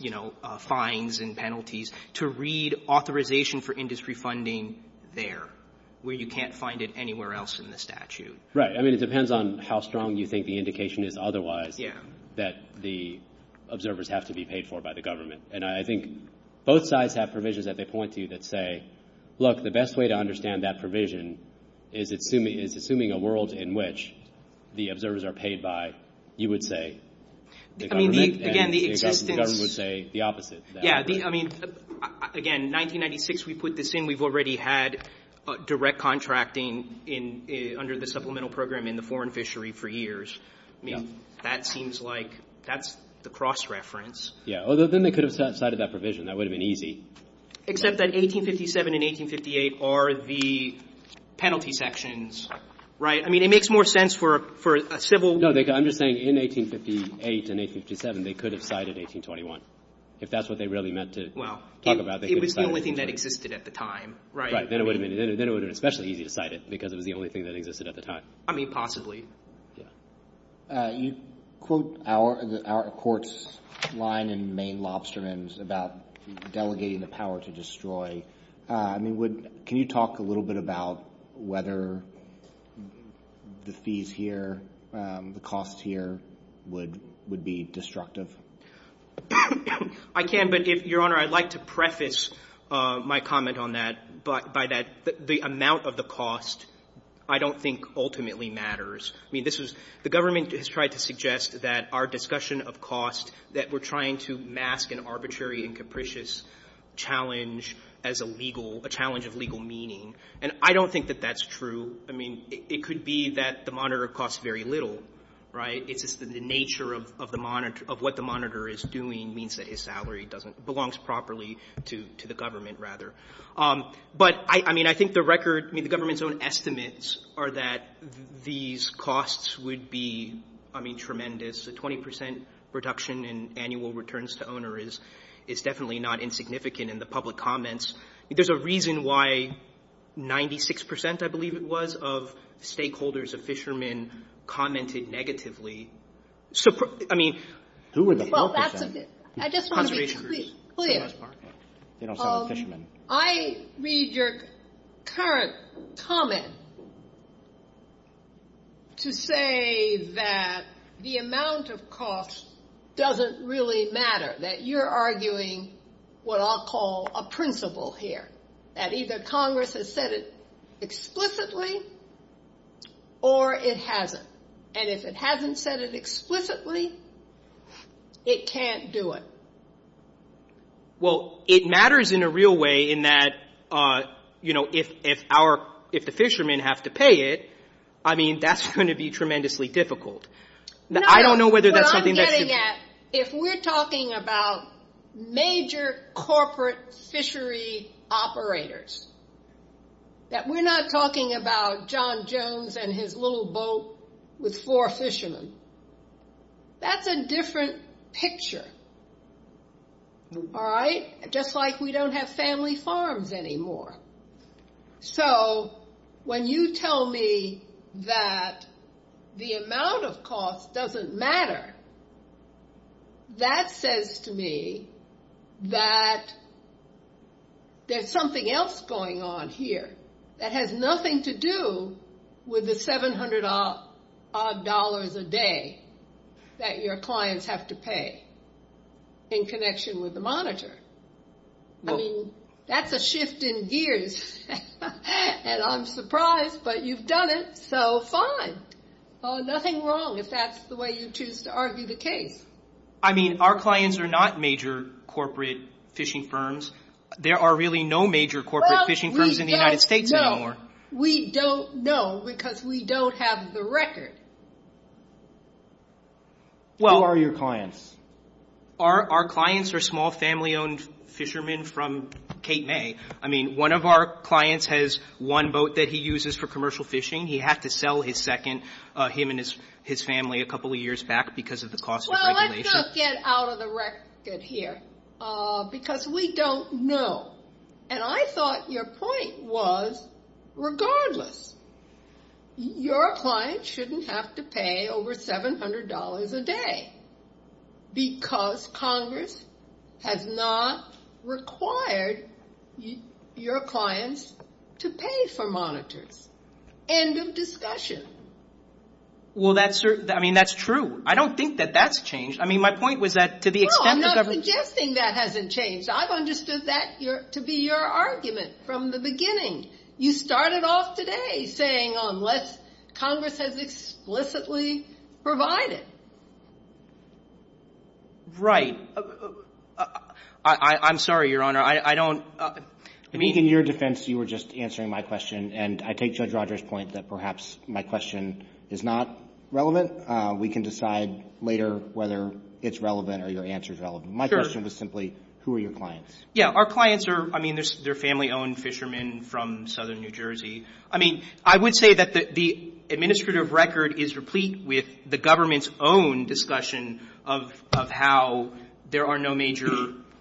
you know, fines and penalties to read authorization for industry funding there where you can't find it anywhere else in the statute. Right. I mean, it depends on how strong you think the indication is otherwise that the observers have to be paid for by the government. And I think both sides have provisions that they point to that say, look, the best way to understand that provision is assuming a world in which the observers are paid by, you would say, the government would say the opposite. Yeah, I mean, again, 1996 we put this in. We've already had direct contracting under the supplemental program in the foreign fishery for years. I mean, that seems like that's the cross-reference. Yeah, although then they could have cited that provision. That would have been easy. Except that 1857 and 1858 are the penalty sections, right? I mean, it makes more sense for a civil... No, I'm just saying in 1858 and 1857 they could have cited 1821 if that's what they really meant to talk about. Well, it was the only thing that existed at the time, right? Right, then it would have been especially easy to cite it because it was the only thing that existed at the time. I mean, possibly. Yeah. You quote our court's line in Maine Lobster Nims about delegating the power to destroy. I mean, can you talk a little bit about whether the fees here, the costs here would be destructive? I can, but Your Honor, I'd like to preface my comment on that by that the amount of the cost I don't think ultimately matters. I mean, the government has tried to suggest that our discussion of cost, that we're trying to mask an arbitrary and capricious challenge of legal meaning, and I don't think that that's true. I mean, it could be that the monitor costs very little, right? It's just the nature of what the monitor is doing means that his salary belongs properly to the government, rather. But, I mean, I think the government's own estimates are that these costs would be tremendous. A 20% reduction in annual returns to owner is definitely not insignificant in the public comments. There's a reason why 96%, I believe it was, of stakeholders of fishermen commented negatively. So, I mean... I just want to be clear. I read your current comment to say that the amount of cost doesn't really matter, that you're arguing what I'll call a principle here, that either Congress has said it explicitly or it hasn't. And if it hasn't said it explicitly, it can't do it. Well, it matters in a real way in that, you know, if the fishermen have to pay it, I mean, that's going to be tremendously difficult. No, what I'm getting at, if we're talking about major corporate fishery operators, that we're not talking about John Jones and his little boat with four fishermen, that's a different picture. All right? Just like we don't have family farms anymore. So, when you tell me that the amount of cost doesn't matter, that says to me that there's something else going on here that has nothing to do with the $700 a day that your clients have to pay in connection with the monitor. I mean, that's a shift in gears, and I'm surprised, but you've done it, so fine. Nothing wrong if that's the way you choose to argue the case. I mean, our clients are not major corporate fishing firms. There are really no major corporate fishing firms in the United States anymore. We don't know because we don't have the record. Who are your clients? Our clients are small family-owned fishermen from Cape May. I mean, one of our clients has one boat that he uses for commercial fishing. He had to sell his second, him and his family, a couple of years back because of the cost. Well, let's just get out of the record here because we don't know. And I thought your point was, regardless, your clients shouldn't have to pay over $700 a day. Because Congress has not required your clients to pay for monitors. End of discussion. Well, that's true. I mean, that's true. I don't think that that's changed. I mean, my point was that to the extent that government- No, I'm not suggesting that hasn't changed. I've understood that to be your argument from the beginning. You started off today saying unless Congress has explicitly provided. Right. I'm sorry, Your Honor. I don't- In your defense, you were just answering my question. And I take Judge Rogers' point that perhaps my question is not relevant. We can decide later whether it's relevant or your answer is relevant. My question was simply, who are your clients? Yeah, our clients are, I mean, they're family-owned fishermen from southern New Jersey. I mean, I would say that the administrative record is replete with the government's own discussion of how there are no major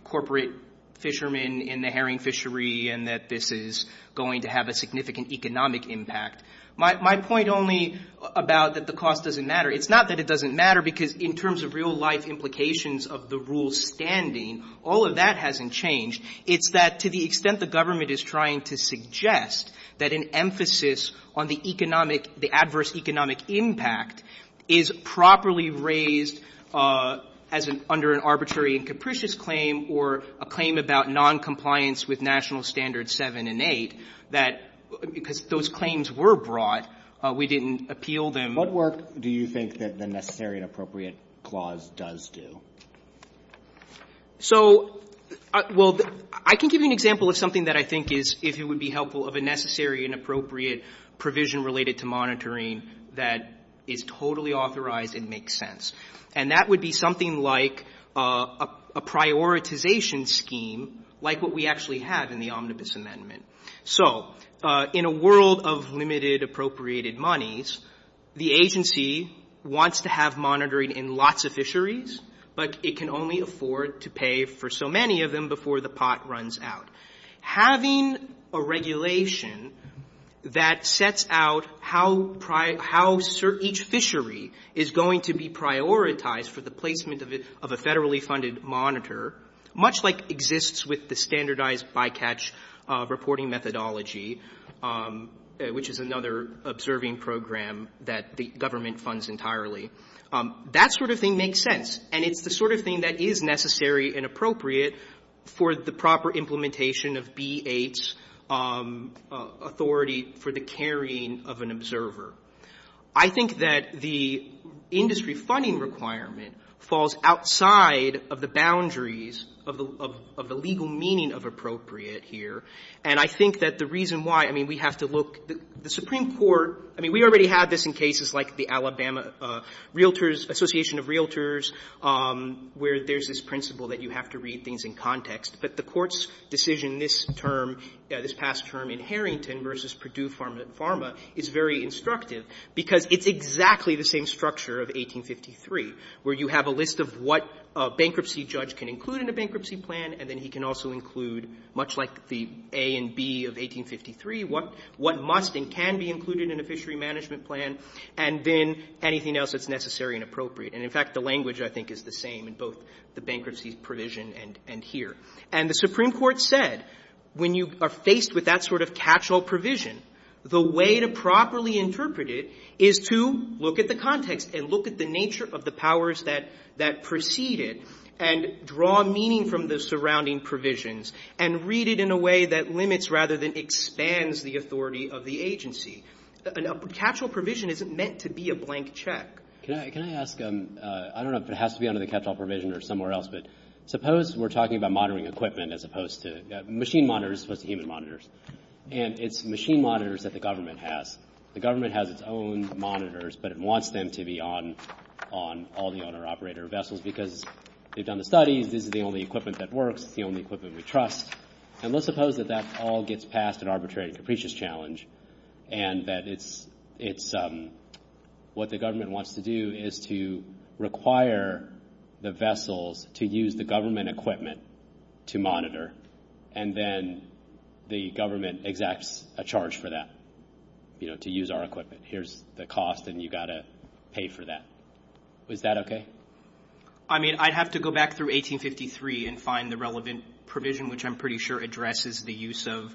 corporate fishermen in the herring fishery and that this is going to have a significant economic impact. My point only about that the cost doesn't matter. It's not that it doesn't matter because in terms of real-life implications of the rules standing, all of that hasn't changed. It's that to the extent the government is trying to suggest that an emphasis on the economic- the adverse economic impact is properly raised under an arbitrary and capricious claim or a claim about noncompliance with National Standards 7 and 8, that because those claims were brought, we didn't appeal them. What work do you think that the Necessary and Appropriate Clause does do? So, well, I can give you an example of something that I think is- if it would be helpful, of a necessary and appropriate provision related to monitoring that is totally authorized and makes sense. And that would be something like a prioritization scheme like what we actually have in the Omnibus Amendment. So, in a world of limited appropriated monies, the agency wants to have monitoring in lots of fisheries, but it can only afford to pay for so many of them before the pot runs out. Having a regulation that sets out how each fishery is going to be prioritized for the placement of a federally funded monitor, much like exists with the standardized bycatch reporting methodology, which is another observing program that the government funds entirely. That sort of thing makes sense. And it's the sort of thing that is necessary and appropriate for the proper implementation of BH's authority for the carrying of an observer. I think that the industry funding requirement falls outside of the boundaries of the legal meaning of appropriate here. And I think that the reason why- I mean, we have to look- Realtors, Association of Realtors, where there's this principle that you have to read things in context. But the court's decision this term, this past term in Harrington versus Purdue Pharma is very instructive because it's exactly the same structure of 1853 where you have a list of what a bankruptcy judge can include in a bankruptcy plan and then he can also include, much like the A and B of 1853, what must and can be included in a fishery management plan and then anything else that's necessary and appropriate. And in fact, the language I think is the same in both the bankruptcy provision and here. And the Supreme Court said when you are faced with that sort of catch-all provision, the way to properly interpret it is to look at the context and look at the nature of the powers that precede it and draw meaning from the surrounding provisions and read it in a way that limits rather than expands the authority of the agency. A catch-all provision isn't meant to be a blank check. Can I ask, I don't know if it has to be under the catch-all provision or somewhere else, but suppose we're talking about monitoring equipment as opposed to, machine monitors as opposed to human monitors. And it's machine monitors that the government has. The government has its own monitors, but it wants them to be on all the owner-operator vessels because they've done the studies, this is the only equipment that works, the only equipment we trust. And let's suppose that that all gets past an arbitrary capricious challenge and that it's what the government wants to do is to require the vessels to use the government equipment to monitor and then the government exacts a charge for that, you know, to use our equipment. Here's the cost and you've got to pay for that. Is that okay? I mean, I'd have to go back through 1853 and find the relevant provision, which I'm pretty sure addresses the use of,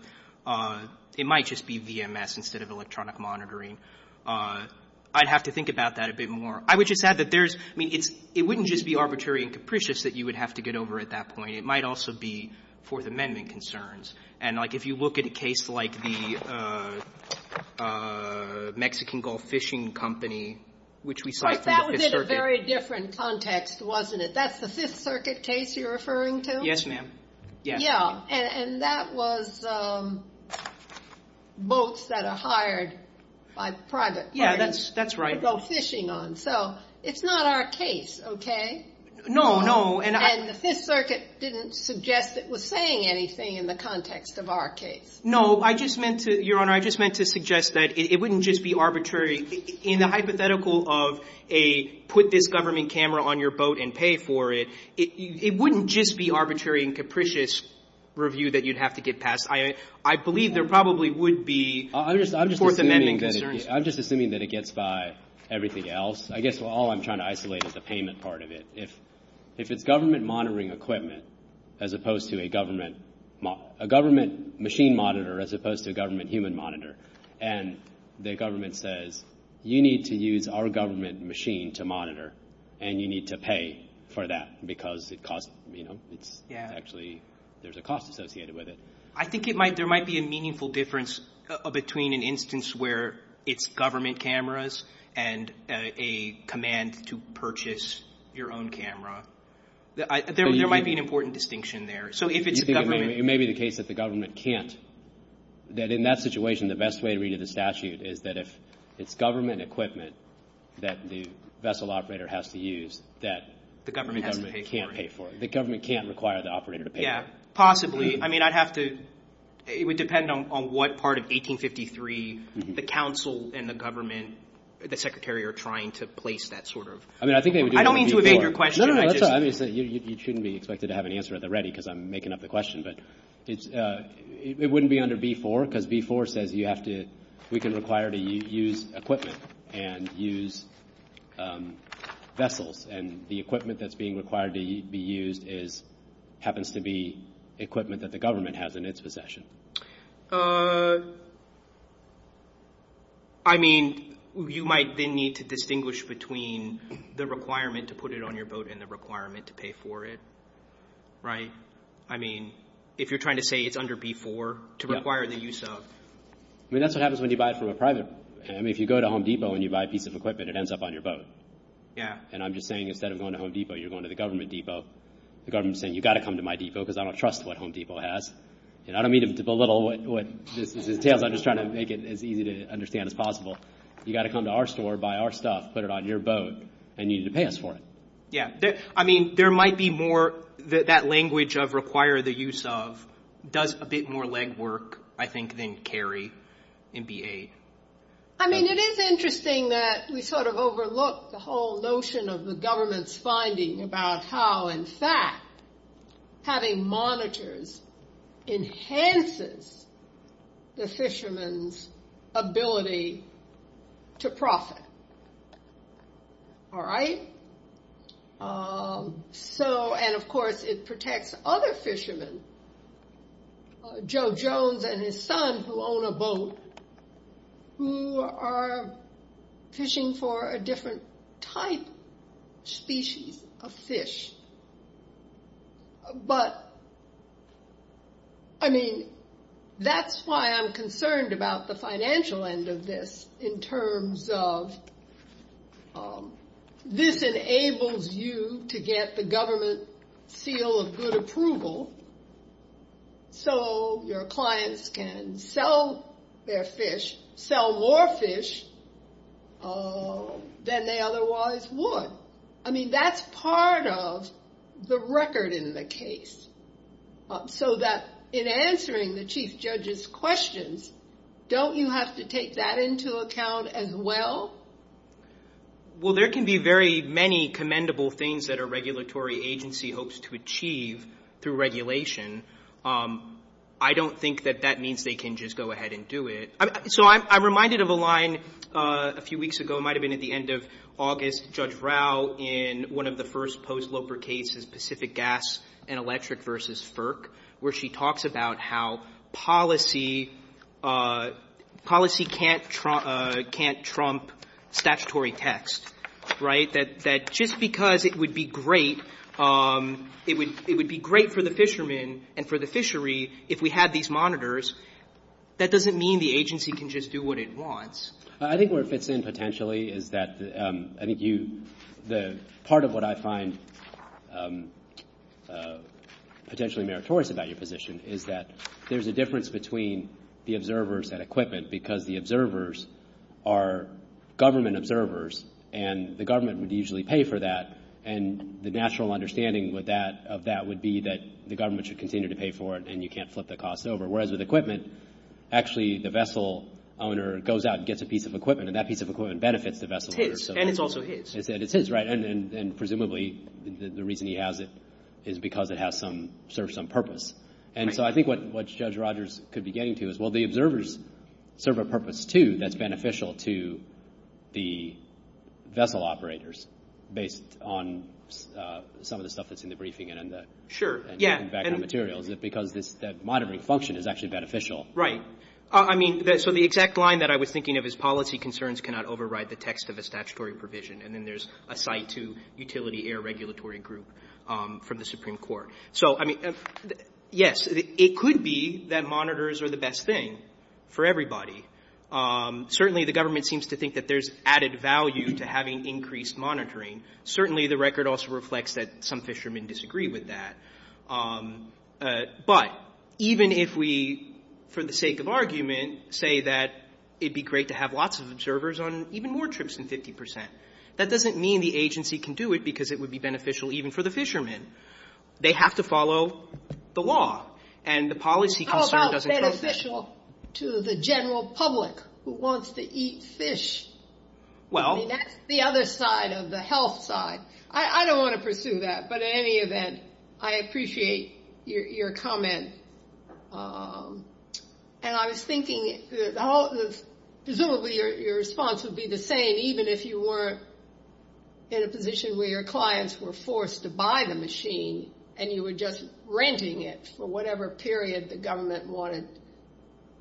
it might just be VMS instead of electronic monitoring. I'd have to think about that a bit more. I would just add that there's, I mean, it wouldn't just be arbitrary and capricious that you would have to get over at that point. It might also be Fourth Amendment concerns. And, like, if you look at a case like the Mexican Gulf Fishing Company, which we saw from the Fifth Circuit. That was in a very different context, wasn't it? That's the Fifth Circuit case you're referring to? Yes, ma'am. Yeah, and that was boats that are hired by private. That's right. To go fishing on. So it's not our case, okay? No, no. And the Fifth Circuit didn't suggest it was saying anything in the context of our case. No, I just meant to, Your Honor, I just meant to suggest that it wouldn't just be arbitrary. In the hypothetical of a put this government camera on your boat and pay for it, it wouldn't just be arbitrary and capricious review that you'd have to get past. I believe there probably would be Fourth Amendment concerns. I'm just assuming that it gets by everything else. I guess all I'm trying to isolate is the payment part of it. If it's government monitoring equipment as opposed to a government machine monitor as opposed to a government human monitor, and the government says you need to use our government machine to monitor and you need to pay for that because there's a cost associated with it. I think there might be a meaningful difference between an instance where it's government cameras and a command to purchase your own camera. There might be an important distinction there. It may be the case that the government can't. In that situation, the best way to read the statute is that if it's government equipment that the vessel operator has to use that the government can't pay for it. The government can't require the operator to pay for it. Possibly. It would depend on what part of 1853 the council and the government, the secretary are trying to place that sort of. I don't mean to evade your question. You shouldn't be expected to have an answer at the ready because I'm making up the question. It wouldn't be under V4 because V4 says we can require to use equipment. We can't buy equipment and use vessels and the equipment that's being required to be used happens to be equipment that the government has in its possession. You might then need to distinguish between the requirement to put it on your boat and the requirement to pay for it. If you're trying to say it's under V4 to require the use of. That's what happens when you buy it from a private. If you go to Home Depot and you buy a piece of equipment, it ends up on your boat. I'm just saying instead of going to Home Depot, you're going to the government depot. The government is saying you've got to come to my depot because I don't trust what Home Depot has. I don't mean to belittle what this entails. I'm just trying to make it as easy to understand as possible. You've got to come to our store, buy our stuff, put it on your boat and you need to pay us for it. Yeah. I mean, there might be more that language of require the use of does a bit more legwork, I think, than carry in V8. I mean, it is interesting that we sort of overlook the whole notion of the government's finding about how in fact having monitors enhances the fishermen's ability to profit. All right. So, and of course, it protects other fishermen, Joe Jones and his son who own a boat, who are fishing for a different type species of fish. But, I mean, that's why I'm concerned about the financial end of this in terms of this enables you to get the government seal of good approval so your clients can sell their fish, sell more fish than they otherwise would. So, I mean, that's part of the record in the case so that in answering the Chief Judge's questions, don't you have to take that into account as well? Well, there can be very many commendable things that a regulatory agency hopes to achieve through regulation. I don't think that that means they can just go ahead and do it. So, I'm reminded of a line a few weeks ago, it might have been at the end of August, Judge Rao in one of the first post-Loper cases, Pacific Gas and Electric versus FERC, where she talks about how policy can't trump statutory text, right? That just because it would be great for the fishermen and for the fishery if we had these monitors, that doesn't mean the agency can just do what it wants. I think where it fits in potentially is that I think the part of what I find potentially meritorious about your position is that there's a difference between the observers and equipment because the observers are government observers and the government would usually pay for that and the natural understanding of that would be that the government should continue to pay for it and you can't flip the costs over. Whereas with equipment, actually the vessel owner goes out and gets a piece of equipment and that piece of equipment benefits the vessel owner. And it's also his. It's his, right? And presumably the reason he has it is because it serves some purpose. And so I think what Judge Rogers could be getting to is, well, the observers serve a purpose too that's beneficial to the vessel operators based on some of the stuff that's in the briefing because the monitoring function is actually beneficial. I mean, so the exact line that I was thinking of is policy concerns cannot override the text of a statutory provision and then there's a site to utility air regulatory group from the Supreme Court. So, I mean, yes, it could be that monitors are the best thing for everybody. Certainly the government seems to think that there's added value to having increased monitoring. Certainly the record also reflects that some fishermen disagree with that. But even if we, for the sake of argument, say that it'd be great to have lots of observers on even more trips than 50 percent, that doesn't mean the agency can do it because it would be beneficial even for the fishermen. They have to follow the law. And the policy concern doesn't cover that. How about beneficial to the general public who wants to eat fish? I mean, that's the other side of the health side. I don't want to pursue that, but in any event, I appreciate your comment. And I was thinking presumably your response would be the same even if you were in a position where your clients were forced to buy the machine and you were just renting it for whatever period the government wanted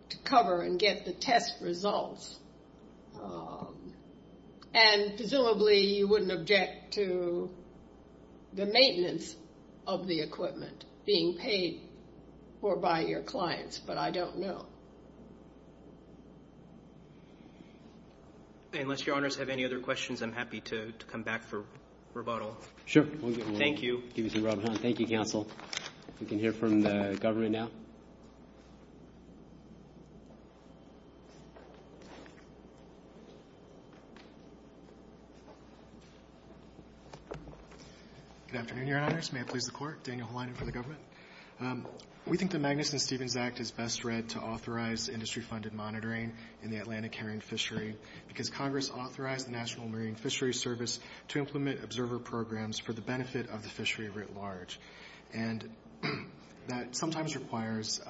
to cover and get the test results. And presumably you wouldn't object to the maintenance of the equipment being paid for by your clients, but I don't know. Unless your honors have any other questions, I'm happy to come back for rebuttal. Sure. Thank you. Thank you, counsel. We can hear from the government now. Good afternoon, your honors. May it please the court. Daniel Holine for the government. We think the Magnuson-Stevens Act is best read to authorize industry-funded monitoring in the Atlantic Carrying Fishery because Congress authorized the National Marine Fishery Service to implement observer programs for the benefit of the fishery writ large. And that sometimes requires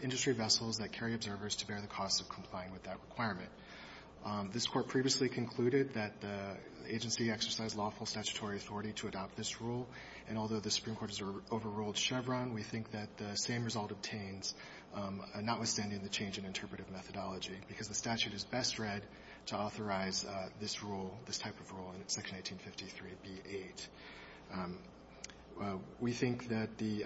industry vessels that carry observers to bear the cost of complying with that requirement. This court previously concluded that the agency exercised lawful statutory authority to adopt this rule, and although the Supreme Court has overruled Chevron, we think that the same result obtains, notwithstanding the change in interpretive methodology, because the statute is best read to authorize this type of rule in Section 1853B8. We think that the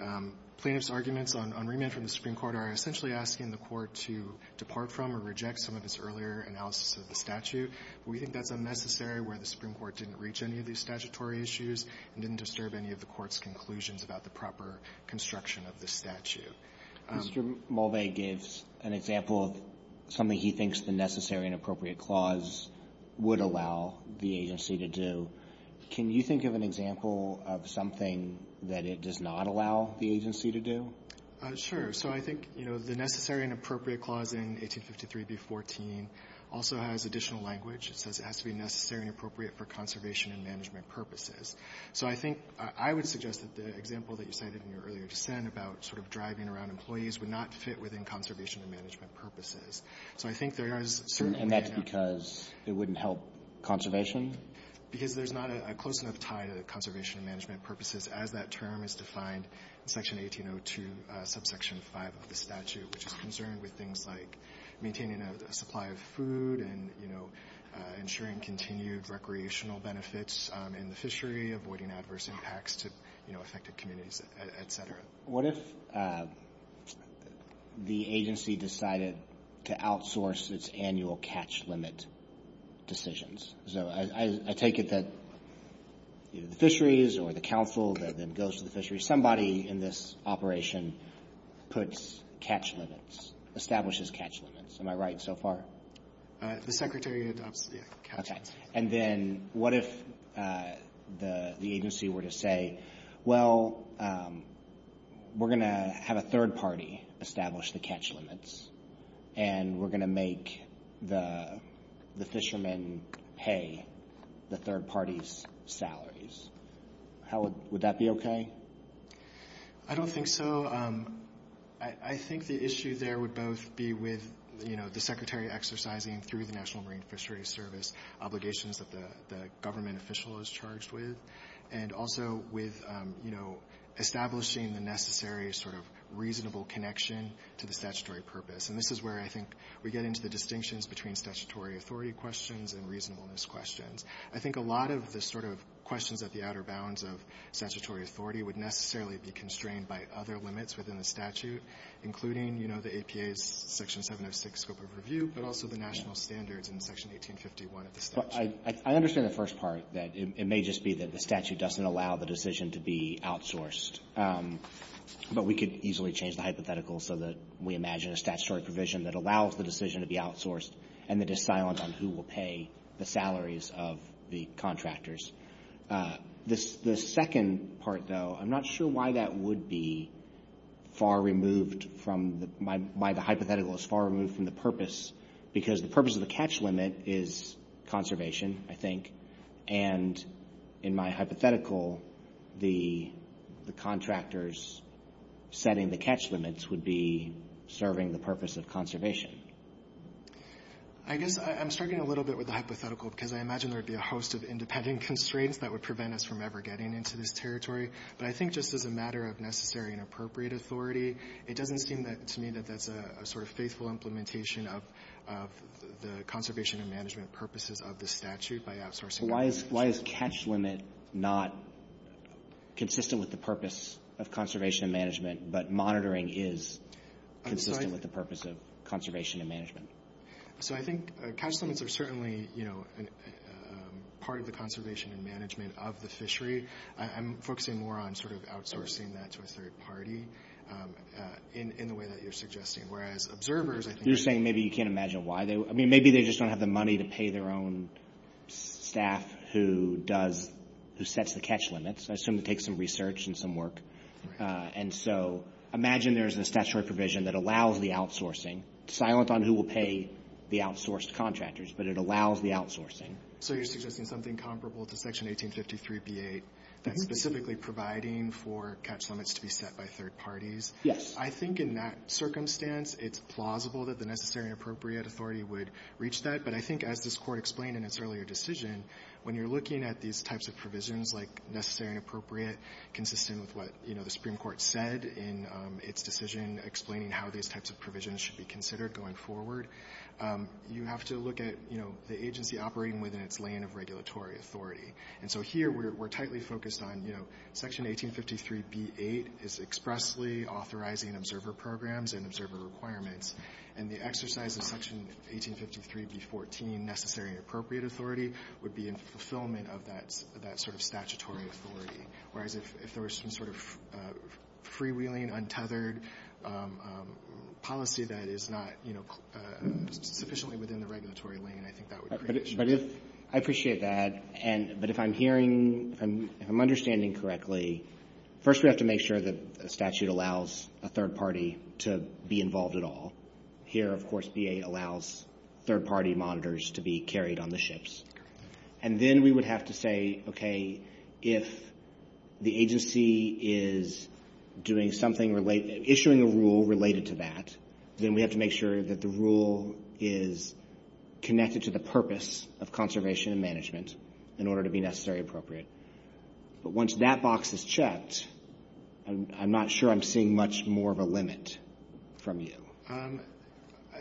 plaintiff's arguments on remand from the Supreme Court are essentially asking the court to depart from or reject some of its earlier analysis of the statute. We think that's unnecessary where the Supreme Court didn't reach any of these statutory issues and didn't disturb any of the court's conclusions about the proper construction of the statute. Mr. Mulvay gives an example of something he thinks the necessary and appropriate clause would allow the agency to do. Can you think of an example of something that it does not allow the agency to do? Sure. I think the necessary and appropriate clause in 1853B14 also has additional language. It says it has to be necessary and appropriate for conservation and management purposes. I would suggest that the example that you cited in your earlier sent about driving around employees would not fit within conservation and management purposes. I think there is... And that's because it wouldn't help conservation? Because there's not a close enough tie to the conservation and management purposes as that term is defined in Section 1802, Subsection 5 of the statute, which is concerned with things like maintaining a supply of food and ensuring continued recreational benefits in the fishery, avoiding adverse impacts to affected communities, et cetera. What if the agency decided to outsource its annual catch limit decisions? I take it that the fisheries or the council that then goes to the fisheries, somebody in this operation puts catch limits, establishes catch limits. Am I right so far? The secretary of the council. Okay. And then what if the agency were to say, well, we're going to have a third party establish the catch limits and we're going to make the fishermen pay the third party's salaries. Would that be okay? I don't think so. I think the issue there would both be with the secretary exercising, through the National Marine Fisheries Service, obligations that the government official is charged with, and also with establishing the necessary sort of reasonable connection to the statutory purpose. And this is where I think we get into the distinctions between statutory authority questions and reasonableness questions. I think a lot of the sort of questions at the outer bounds of statutory authority would necessarily be constrained by other limits within the statute, including the APA's Section 706 scope of review, but also the national standards in Section 1851 of the statute. I understand the first part, that it may just be that the statute doesn't allow the decision to be outsourced. But we could easily change the hypothetical so that we imagine a statutory provision that allows the decision to be outsourced and that is silenced on who will pay the salaries of the contractors. The second part, though, I'm not sure why that would be far removed from the – why the hypothetical is far removed from the purpose, because the purpose of the catch limit is conservation, I think, and in my hypothetical, the contractors setting the catch limits would be serving the purpose of conservation. I guess I'm struggling a little bit with the hypothetical because I imagine there would be a host of independent constraints that would prevent us from ever getting into this territory. But I think just as a matter of necessary and appropriate authority, it doesn't seem to me that that's a faithful implementation of the conservation and management purposes of the statute by outsourcing. Why is catch limit not consistent with the purpose of conservation and management but monitoring is consistent with the purpose of conservation and management? I think catch limits are certainly part of the conservation and management of the fishery. I'm focusing more on outsourcing that to a third party in the way that you're suggesting, whereas observers, I think— You're saying maybe you can't imagine why. Maybe they just don't have the money to pay their own staff who sets the catch limits. I assume it takes some research and some work. And so imagine there is a statutory provision that allows the outsourcing, silent on who will pay the outsourced contractors, but it allows the outsourcing. So you're suggesting something comparable to Section 1853B8, specifically providing for catch limits to be set by third parties? Yes. I think in that circumstance, it's plausible that the necessary and appropriate authority would reach that. But I think as this Court explained in its earlier decision, when you're looking at these types of provisions like necessary and appropriate, consistent with what the Supreme Court said in its decision explaining how these types of provisions should be considered going forward, you have to look at the agency operating within its lane of regulatory authority. And so here we're tightly focused on Section 1853B8 is expressly authorizing observer programs and observer requirements. And the exercise of Section 1853B14, necessary and appropriate authority, would be in fulfillment of that sort of statutory authority. Whereas if there was some sort of freewheeling, untethered policy that is not sufficiently within the regulatory lane, I think that would create issues. I appreciate that, but if I'm hearing, if I'm understanding correctly, first we have to make sure that a statute allows a third party to be involved at all. Here, of course, VA allows third party monitors to be carried on the ships. And then we would have to say, okay, if the agency is doing something related, issuing a rule related to that, then we have to make sure that the rule is connected to the purpose of conservation and management in order to be necessary and appropriate. But once that box is checked, I'm not sure I'm seeing much more of a limit from you.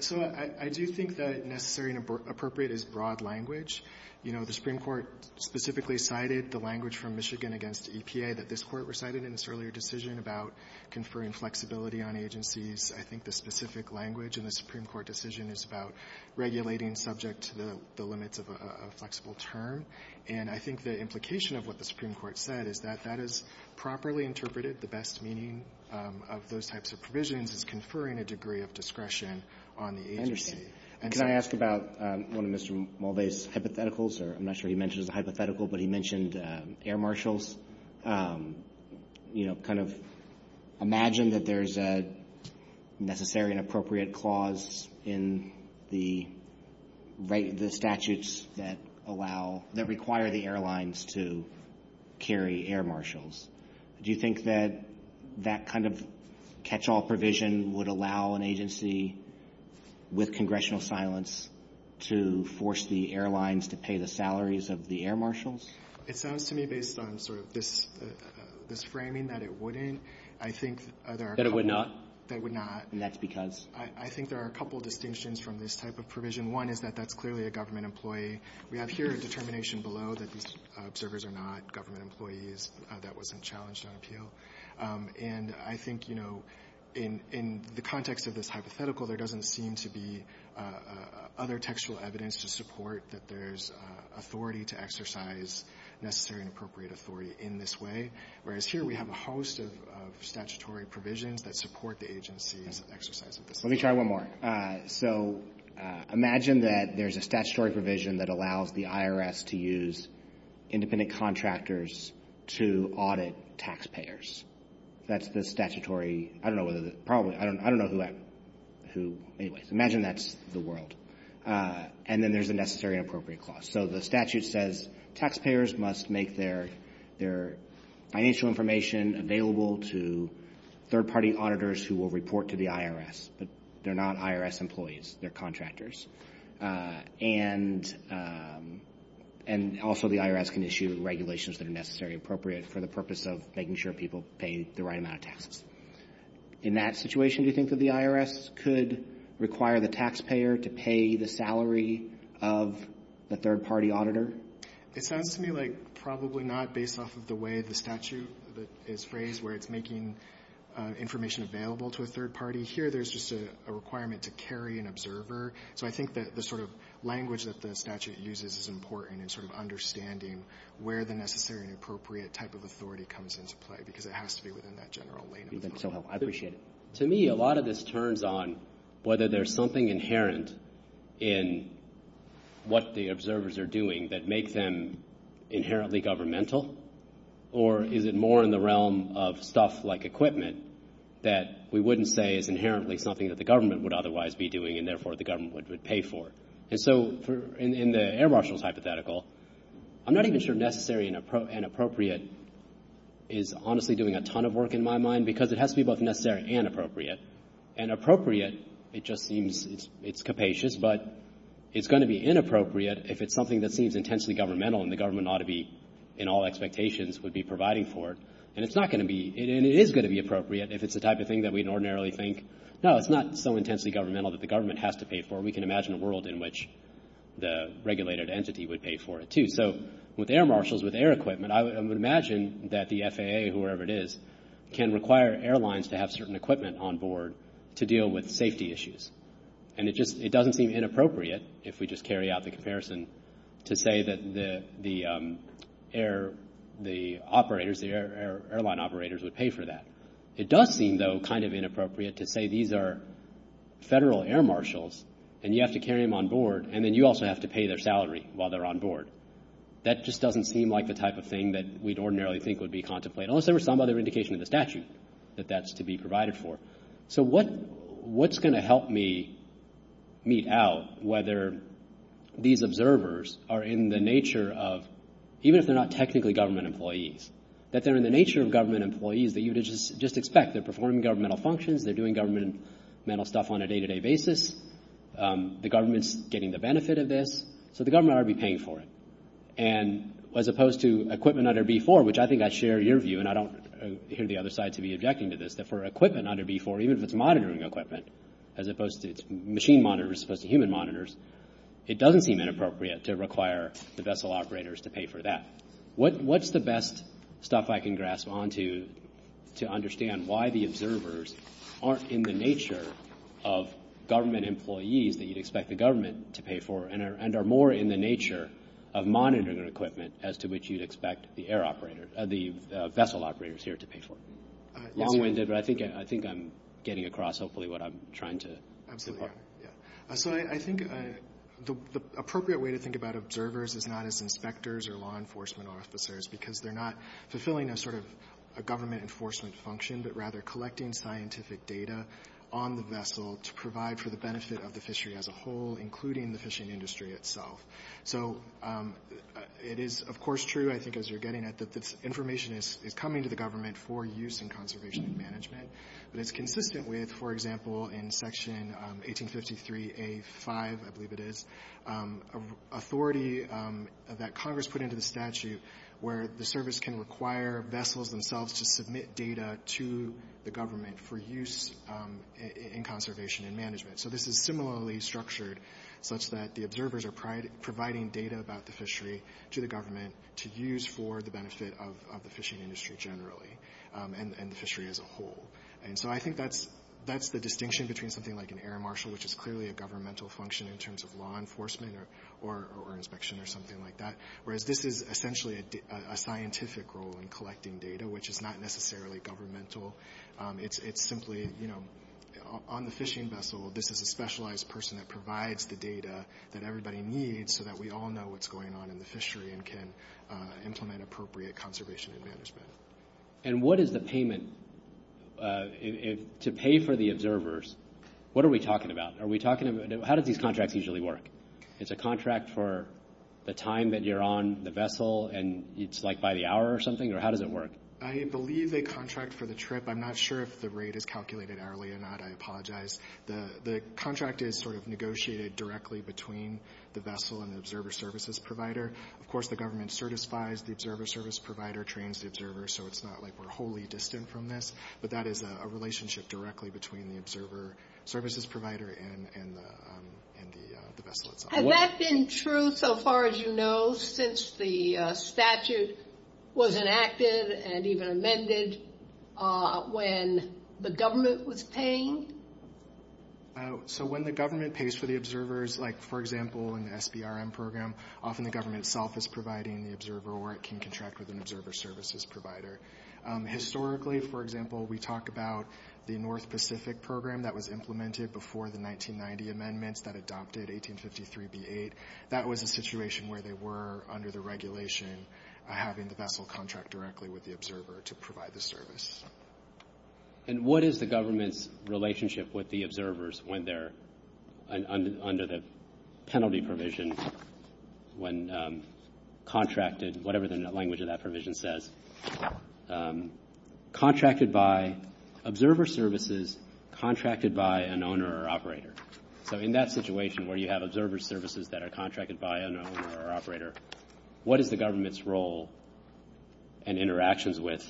So I do think that necessary and appropriate is broad language. You know, the Supreme Court specifically cited the language from Michigan against EPA that this Court recited in its earlier decision about conferring flexibility on agencies. I think the specific language in the Supreme Court decision is about regulating subject to the limits of a flexible term. And I think the implication of what the Supreme Court said is that that is properly interpreted. The best meaning of those types of provisions is conferring a degree of discretion on the agency. Can I ask about one of Mr. Mulday's hypotheticals? I'm not sure he mentions a hypothetical, but he mentioned air marshals. You know, kind of imagine that there's a necessary and appropriate clause in the statutes that require the airlines to carry air marshals. Do you think that that kind of catch-all provision would allow an agency with congressional silence to force the airlines to pay the salaries of the air marshals? It sounds to me based on sort of this framing that it wouldn't. That it would not? That it would not. And that's because? I think there are a couple of distinctions from this type of provision. One is that that's clearly a government employee. We have here a determination below that these observers are not government employees. That wasn't challenged on appeal. And I think, you know, in the context of this hypothetical, there doesn't seem to be other textual evidence to support that there's authority to exercise necessary and appropriate authority in this way. Whereas here we have a host of statutory provisions that support the agency's exercise of this authority. Let me try one more. So imagine that there's a statutory provision that allows the IRS to use independent contractors to audit taxpayers. That's the statutory. I don't know what it is. Probably. I don't know who that is. Imagine that's the world. And then there's a necessary and appropriate clause. So the statute says taxpayers must make their financial information available to third-party auditors who will report to the IRS. But they're not IRS employees. They're contractors. And also the IRS can issue regulations that are necessary and appropriate for the purpose of making sure people pay the right amount of tax. In that situation, do you think that the IRS could require the taxpayer to pay the salary of the third-party auditor? It sounds to me like probably not based off of the way the statute is phrased where it's making information available to a third-party. Here there's just a requirement to carry an observer. So I think that the sort of language that the statute uses is important in sort of understanding where the necessary and appropriate type of authority comes into play because it has to be within that general language. I appreciate it. To me, a lot of this turns on whether there's something inherent in what the observers are doing that makes them inherently governmental or is it more in the realm of stuff like equipment that we wouldn't say is inherently something that the government would otherwise be doing and therefore the government would pay for. And so in the air marshals hypothetical, I'm not even sure necessary and appropriate is honestly doing a ton of work in my mind because it has to be both necessary and appropriate. And appropriate, it just means it's capacious but it's going to be inappropriate if it's something that seems intensely governmental and the government ought to be in all expectations would be providing for it. And it is going to be appropriate if it's the type of thing that we ordinarily think, no, it's not so intensely governmental that the government has to pay for. We can imagine a world in which the regulated entity would pay for it too. So with air marshals, with air equipment, I would imagine that the FAA, whoever it is, can require airlines to have certain equipment on board to deal with safety issues. And it doesn't seem inappropriate if we just carry out the comparison to say that the airline operators would pay for that. It does seem, though, kind of inappropriate to say these are federal air marshals and you have to carry them on board and then you also have to pay their salary while they're on board. That just doesn't seem like the type of thing that we'd ordinarily think would be contemplated, unless there were some other indication of the statute that that's to be provided for. So what's going to help me meet out whether these observers are in the nature of, even if they're not technically government employees, that they're in the nature of government employees that you would just expect, they're performing governmental functions, they're doing governmental stuff on a day-to-day basis, the government's getting the benefit of this. So the government ought to be paying for it. And as opposed to equipment under B-4, which I think I share your view, and I don't hear the other side to be objecting to this, that for equipment under B-4, even if it's monitoring equipment as opposed to machine monitors as opposed to human monitors, it doesn't seem inappropriate to require the vessel operators to pay for that. What's the best stuff I can grasp onto to understand why the observers aren't in the nature of government employees that you'd expect the government to pay for and are more in the nature of monitoring equipment as to which you'd expect the vessel operators here to pay for? I think I'm getting across hopefully what I'm trying to get across. So I think the appropriate way to think about observers is not as inspectors or law enforcement officers because they're not fulfilling a sort of government enforcement function, but rather collecting scientific data on the vessel to provide for the benefit of the fishery as a whole, including the fishing industry itself. So it is, of course, true, I think, as you're getting it, that this information is coming to the government for use in conservation management. It's consistent with, for example, in Section 1853A-5, I believe it is, authority that Congress put into the statute where the service can require vessels themselves to submit data to the government for use in conservation and management. So this is similarly structured such that the observers are providing data about the fishery to the government to use for the benefit of the fishing industry generally and the fishery as a whole. And so I think that's the distinction between something like an air marshal, which is clearly a governmental function in terms of law enforcement or inspection or something like that, whereas this is essentially a scientific role in collecting data, which is not necessarily governmental. It's simply, you know, on the fishing vessel, this is a specialized person that provides the data that everybody needs so that we all know what's going on in the fishery and can implement appropriate conservation and management. And what is the payment? To pay for the observers, what are we talking about? How do these contracts usually work? Is it a contract for the time that you're on the vessel and it's like by the hour or something, or how does it work? I believe a contract for the trip. I'm not sure if the rate is calculated hourly or not. I apologize. The contract is sort of negotiated directly between the vessel and the observer services provider. Of course, the government certifies the observer service provider, trains the observer, so it's not like we're wholly distant from this, but that is a relationship directly between the observer services provider and the vessel itself. Has that been true so far as you know since the statute was enacted and even amended when the government was paying? So when the government pays for the observers, like, for example, in the SBRM program, often the government itself is providing the observer or it can contract with an observer services provider. Historically, for example, we talk about the North Pacific program that was implemented before the 1990 amendments that adopted 1853b8. That was a situation where they were, under the regulation, having the vessel contract directly with the observer to provide the service. And what is the government's relationship with the observers when they're under the penalty provision when contracted, whatever the language of that provision says, contracted by observer services, contracted by an owner or operator? So in that situation where you have observer services that are contracted by an owner or operator, what is the government's role and interactions with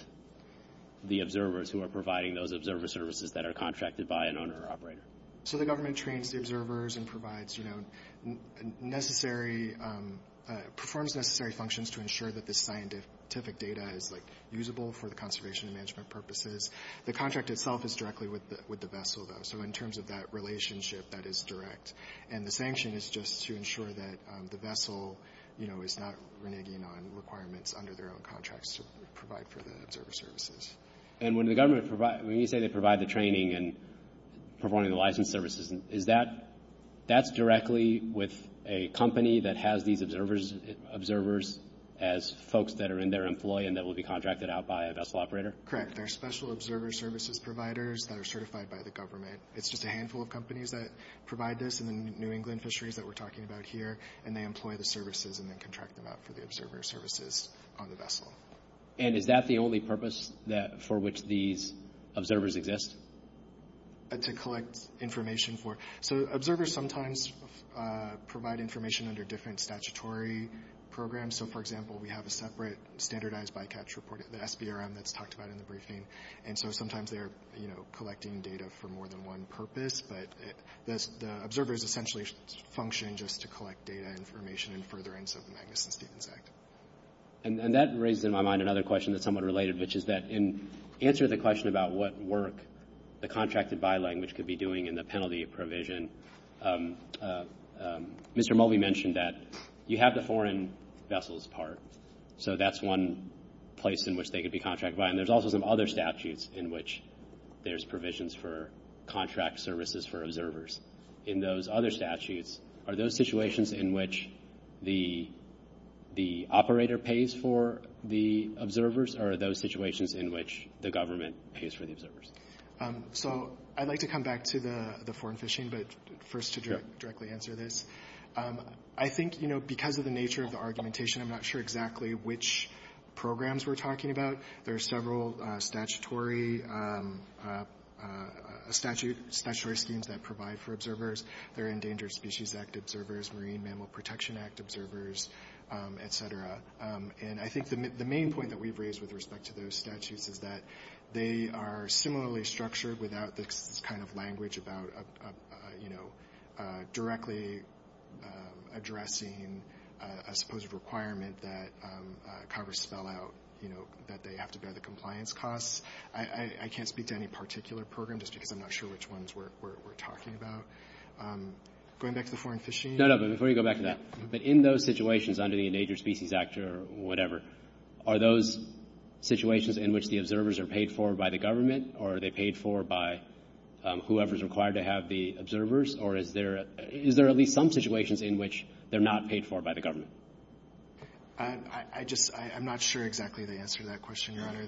the observers who are providing those observer services that are contracted by an owner or operator? So the government trains the observers and provides necessary, performs necessary functions to ensure that the scientific data is, like, usable for conservation and management purposes. The contract itself is directly with the vessel, though. So in terms of that relationship, that is direct. And the sanction is just to ensure that the vessel, you know, is not reneging on requirements under their own contracts to provide for the observer services. And when you say they provide the training and providing the license services, is that directly with a company that has these observers as folks that are in their employee and that will be contracted out by a vessel operator? Correct. There are special observer services providers that are certified by the government. It's just a handful of companies that provide this, and then New England Fisheries that we're talking about here, and they employ the services and then contract them out for the observer services on the vessel. And is that the only purpose for which these observers exist? To collect information for. So observers sometimes provide information under different statutory programs. So, for example, we have a separate standardized bycatch report at the SBRM that's talked about in the briefing. And so sometimes they're, you know, collecting data for more than one purpose. But the observer is essentially functioning just to collect data and information and further and so the Magnuson-Stevens Act. And that brings to my mind another question that's somewhat related, which is that in answer to the question about what work the contracted by language could be doing in the penalty provision, Mr. Mulvey mentioned that you have the foreign vessels part. So that's one place in which they could be contracted by. And there's also some other statutes in which there's provisions for contract services for observers. In those other statutes, are those situations in which the operator pays for the observers or are those situations in which the government pays for the observers? So I'd like to come back to the foreign fishing, but first to directly answer this. I think, you know, because of the nature of the argumentation, I'm not sure exactly which programs we're talking about. There are several statutory schemes that provide for observers. There are Endangered Species Act observers, Marine Mammal Protection Act observers, et cetera. And I think the main point that we've raised with respect to those statutes is that they are similarly structured without this kind of language about, you know, directly addressing a supposed requirement that Congress spell out, you know, that they have to bear the compliance costs. I can't speak to any particular program just because I'm not sure which ones we're talking about. Going back to the foreign fishing. No, no, but before you go back to that, but in those situations under the Endangered Species Act or whatever, are those situations in which the observers are paid for by the government or are they paid for by whoever is required to have the observers, or is there at least some situations in which they're not paid for by the government? I'm not sure exactly the answer to that question, Your Honor.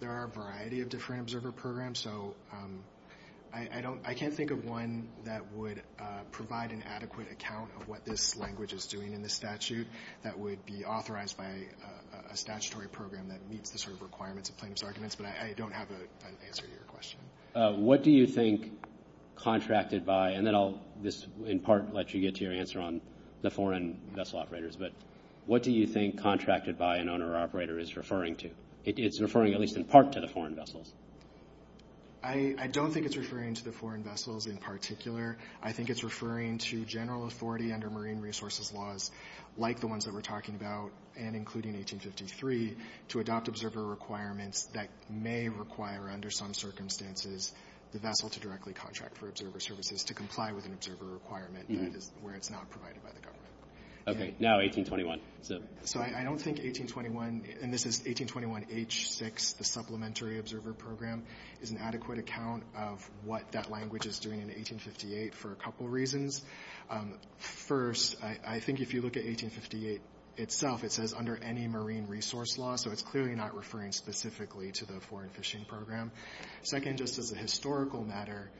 There are a variety of different observer programs. So I can't think of one that would provide an adequate account of what this language is doing in the statute that would be authorized by a statutory program that meets the sort of requirements of plaintiff's arguments, but I don't have an answer to your question. What do you think contracted by, and then I'll in part let you get to your answer on the foreign vessel operators, but what do you think contracted by an owner or operator is referring to? It's referring at least in part to the foreign vessels. I don't think it's referring to the foreign vessels in particular. I think it's referring to general authority under marine resources laws like the ones that we're talking about and including 1853 to adopt observer requirements that may require under some circumstances the vessel to directly contract for observer services to comply with an observer requirement where it's not provided by the government. Okay, now 1821. So I don't think 1821, and this is 1821H6, the supplementary observer program, is an adequate account of what that language is doing in 1858 for a couple reasons. First, I think if you look at 1858 itself, it says under any marine resource law, so it's clearly not referring specifically to the foreign fishing program. Second, just as a historical matter,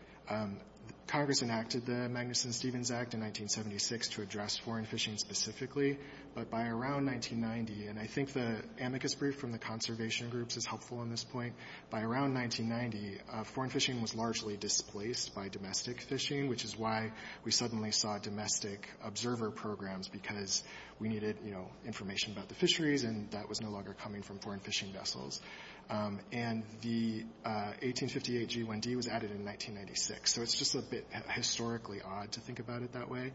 Congress enacted the Magnuson-Stevens Act in 1976 to address foreign fishing specifically, but by around 1990, and I think the amicus brief from the conservation groups is helpful on this point, but around 1990, foreign fishing was largely displaced by domestic fishing, which is why we suddenly saw domestic observer programs because we needed information about the fisheries and that was no longer coming from foreign fishing vessels. And the 1858 G1D was added in 1996, so it's just a bit historically odd to think about it that way.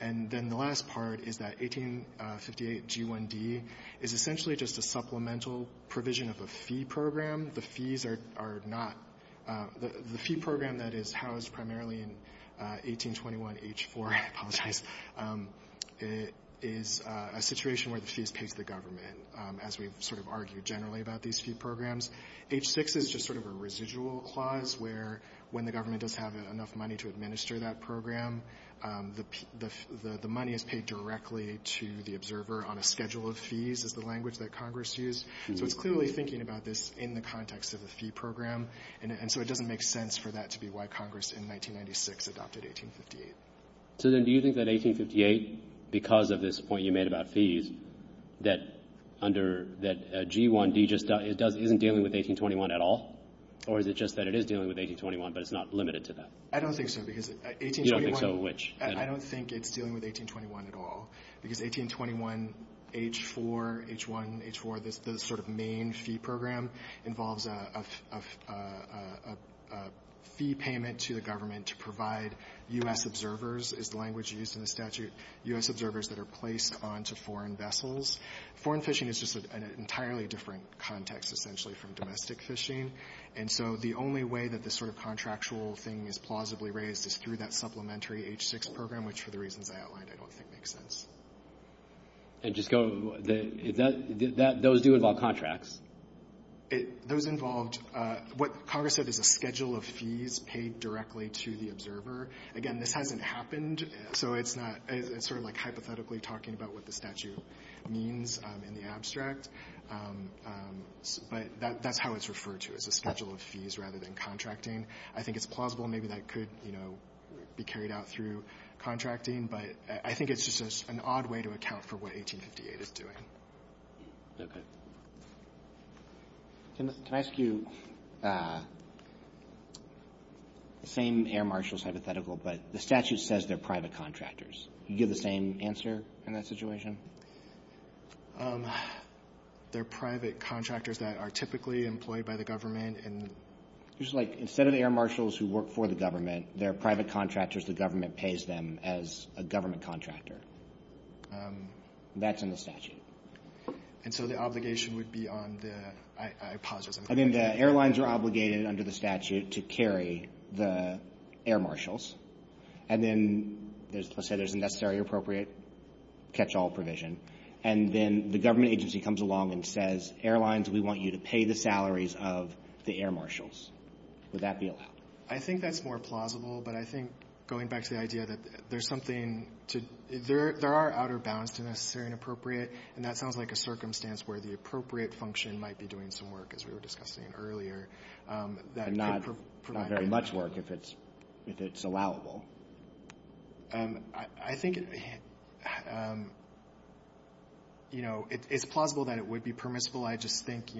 And then the last part is that 1858 G1D is essentially just a supplemental provision of a fee program. The fees are not – the fee program that is housed primarily in 1821 H4, I apologize, is a situation where the fees take the government, as we've sort of argued generally about these fee programs. H6 is just sort of a residual clause where when the government doesn't have enough money to administer that program, the money is paid directly to the observer on a schedule of fees is the language that Congress used. So it's clearly thinking about this in the context of a fee program, and so it doesn't make sense for that to be why Congress in 1996 adopted 1858. So then do you think that 1858, because of this point you made about fees, that G1D isn't dealing with 1821 at all? Or is it just that it is dealing with 1821, but it's not limited to that? I don't think so. You don't think so, which? I don't think it's dealing with 1821 at all, because 1821 H4, H1, H4, the sort of main fee program involves a fee payment to the government to provide U.S. observers, is the language used in the statute, U.S. observers that are placed onto foreign vessels. Foreign fishing is just an entirely different context essentially from domestic fishing, and so the only way that this sort of contractual thing is plausibly raised is through that supplementary H6 program, which for the reasons I outlined I don't think makes sense. Those do involve contracts. Those involved, what Congress said is a schedule of fees paid directly to the observer. Again, this hasn't happened, so it's sort of like hypothetically talking about what the statute means in the abstract. But that's how it's referred to, it's a schedule of fees rather than contracting. I think it's plausible maybe that could be carried out through contracting, but I think it's just an odd way to account for what 1858 is doing. Can I ask you the same Air Marshal's hypothetical, but the statute says they're private contractors. Do you give the same answer in that situation? They're private contractors that are typically employed by the government. It's like instead of Air Marshals who work for the government, they're private contractors, the government pays them as a government contractor. That's in the statute. And so the obligation would be on the hypothesis. I mean the airlines are obligated under the statute to carry the Air Marshals, and then let's say there's a necessary and appropriate catch-all provision, and then the government agency comes along and says, airlines, we want you to pay the salaries of the Air Marshals. Would that be allowed? I think that's more plausible, but I think going back to the idea that there's something, there are outer bounds to necessary and appropriate, and that sounds like a circumstance where the appropriate function might be doing some work, as we were discussing earlier. Not very much work if it's allowable. I think it's plausible that it would be permissible. I just think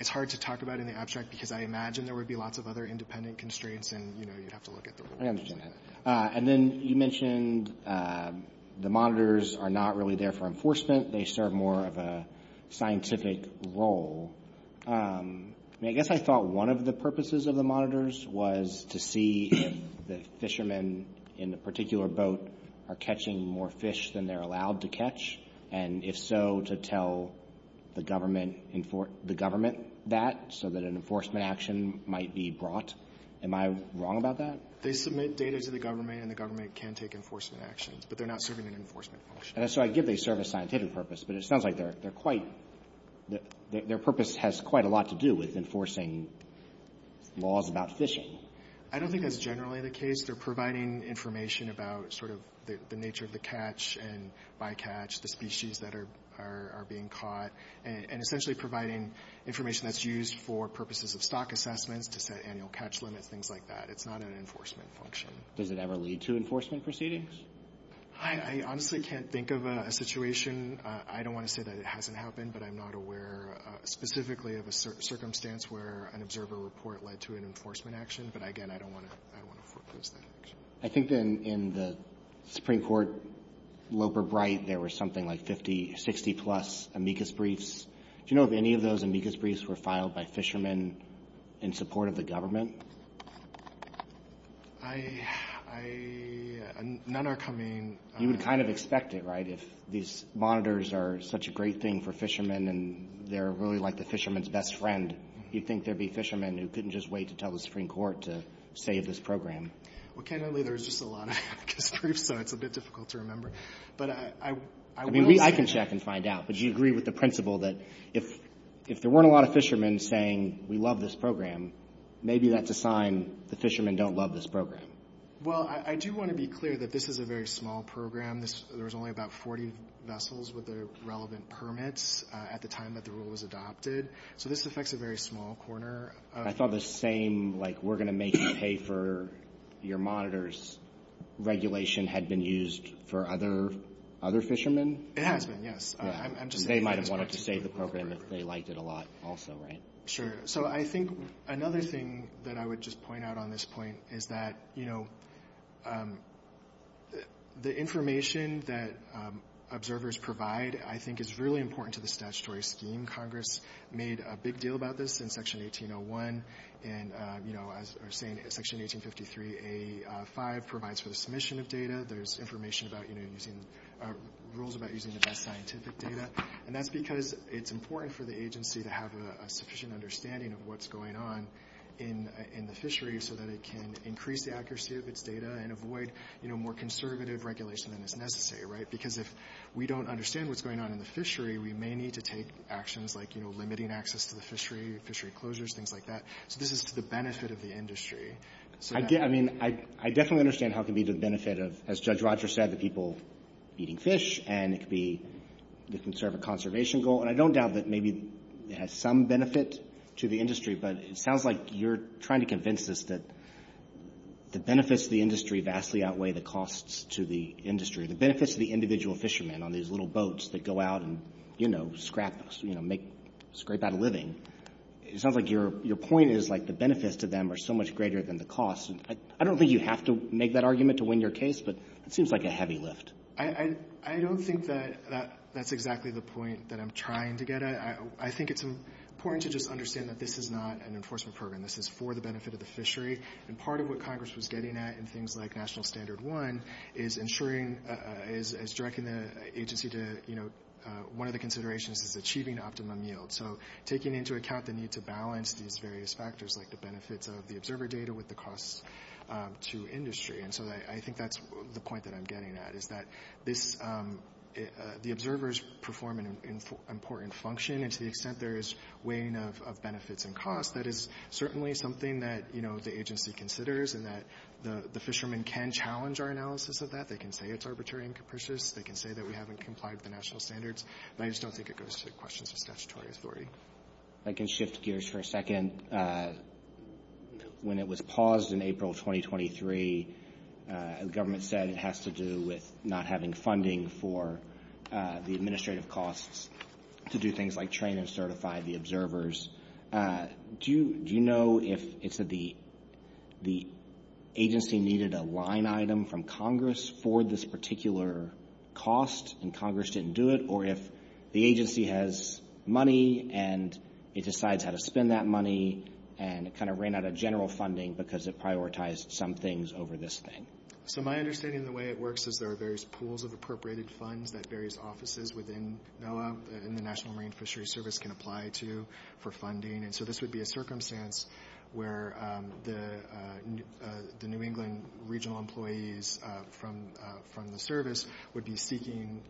it's hard to talk about in the abstract because I imagine there would be lots of other independent constraints, and you'd have to look at the rules. I understand that. And then you mentioned the monitors are not really there for enforcement. They serve more of a scientific role. I guess I thought one of the purposes of the monitors was to see if the fishermen in the particular boat are catching more fish than they're allowed to catch, and if so, to tell the government that so that an enforcement action might be brought. Am I wrong about that? They submit data to the government, and the government can take enforcement action, but they're not serving an enforcement function. So I get they serve a scientific purpose, but it sounds like their purpose has quite a lot to do with enforcing laws about fishing. I don't think that's generally the case. They're providing information about sort of the nature of the catch and by catch, the species that are being caught, and essentially providing information that's used for purposes of stock assessments, annual catch limit, things like that. It's not an enforcement function. Does it ever lead to enforcement proceedings? I honestly can't think of a situation. I don't want to say that it hasn't happened, but I'm not aware specifically of a circumstance where an observer report led to an enforcement action. But, again, I don't want to put those numbers. I think in the Supreme Court Loper Brite, there were something like 50, 60-plus amicus briefs. Do you know if any of those amicus briefs were filed by fishermen in support of the government? None are coming. You would kind of expect it, right? If these monitors are such a great thing for fishermen and they're really like the fisherman's best friend, you'd think there'd be fishermen who couldn't just wait to tell the Supreme Court to save this program. Well, generally there's just a lot of amicus briefs, so it's a bit difficult to remember. I can check and find out. But do you agree with the principle that if there weren't a lot of fishermen saying, we love this program, maybe that's a sign the fishermen don't love this program? Well, I do want to be clear that this is a very small program. There's only about 40 vessels with the relevant permits at the time that the rule was adopted. So this affects a very small corner. I thought the same, like we're going to make you pay for your monitors, regulation had been used for other fishermen? It has been, yes. They might have wanted to save the program if they liked it a lot also, right? Sure. So I think another thing that I would just point out on this point is that, you know, the information that observers provide I think is really important to the statutory scheme. Congress made a big deal about this in Section 1801. And, you know, as I was saying, Section 1853A5 provides for the submission of data. There's information about, you know, rules about using the best scientific data. And that's because it's important for the agency to have a sufficient understanding of what's going on in the fishery so that it can increase the accuracy of its data and avoid, you know, more conservative regulation than is necessary, right? Because if we don't understand what's going on in the fishery, we may need to take actions like, you know, limiting access to the fishery, fishery closures, things like that. So this is to the benefit of the industry. I mean, I definitely understand how it could be to the benefit of, as Judge Rogers said, the people eating fish and it could be sort of a conservation goal. And I don't doubt that maybe it has some benefit to the industry, but it sounds like you're trying to convince us that the benefits to the industry vastly outweigh the costs to the industry. The benefits to the individual fishermen on these little boats that go out and, you know, scrap, you know, scrape out a living. It sounds like your point is, like, the benefits to them are so much greater than the costs. And I don't think you have to make that argument to win your case, but it seems like a heavy lift. I don't think that that's exactly the point that I'm trying to get at. I think it's important to just understand that this is not an enforcement program. This is for the benefit of the fishery. And part of what Congress was getting at in things like National Standard 1 is ensuring, is directing the agency to, you know, one of the considerations is achieving optimum yield. So taking into account the need to balance these various factors, like the benefits of the observer data with the costs to industry. And so I think that's the point that I'm getting at, is that the observers perform an important function. And to the extent there is weighing of benefits and costs, that is certainly something that, you know, the agency considers and that the fishermen can challenge our analysis of that. They can say it's arbitrary and capricious. They can say that we haven't complied with the national standards. And I just don't think it goes to the questions of statutory authority. I can shift gears for a second. When it was paused in April of 2023, the government said it has to do with not having funding for the administrative costs to do things like train and certify the observers. Do you know if the agency needed a line item from Congress for this particular cost and Congress didn't do it, or if the agency has money and it decides how to spend that money and it kind of ran out of general funding because it prioritized some things over this thing? So my understanding of the way it works is there are various pools of appropriated funds that various offices within the National Marine Fisheries Service can apply to for funding. And so this would be a circumstance where the New England regional employees from the service would be seeking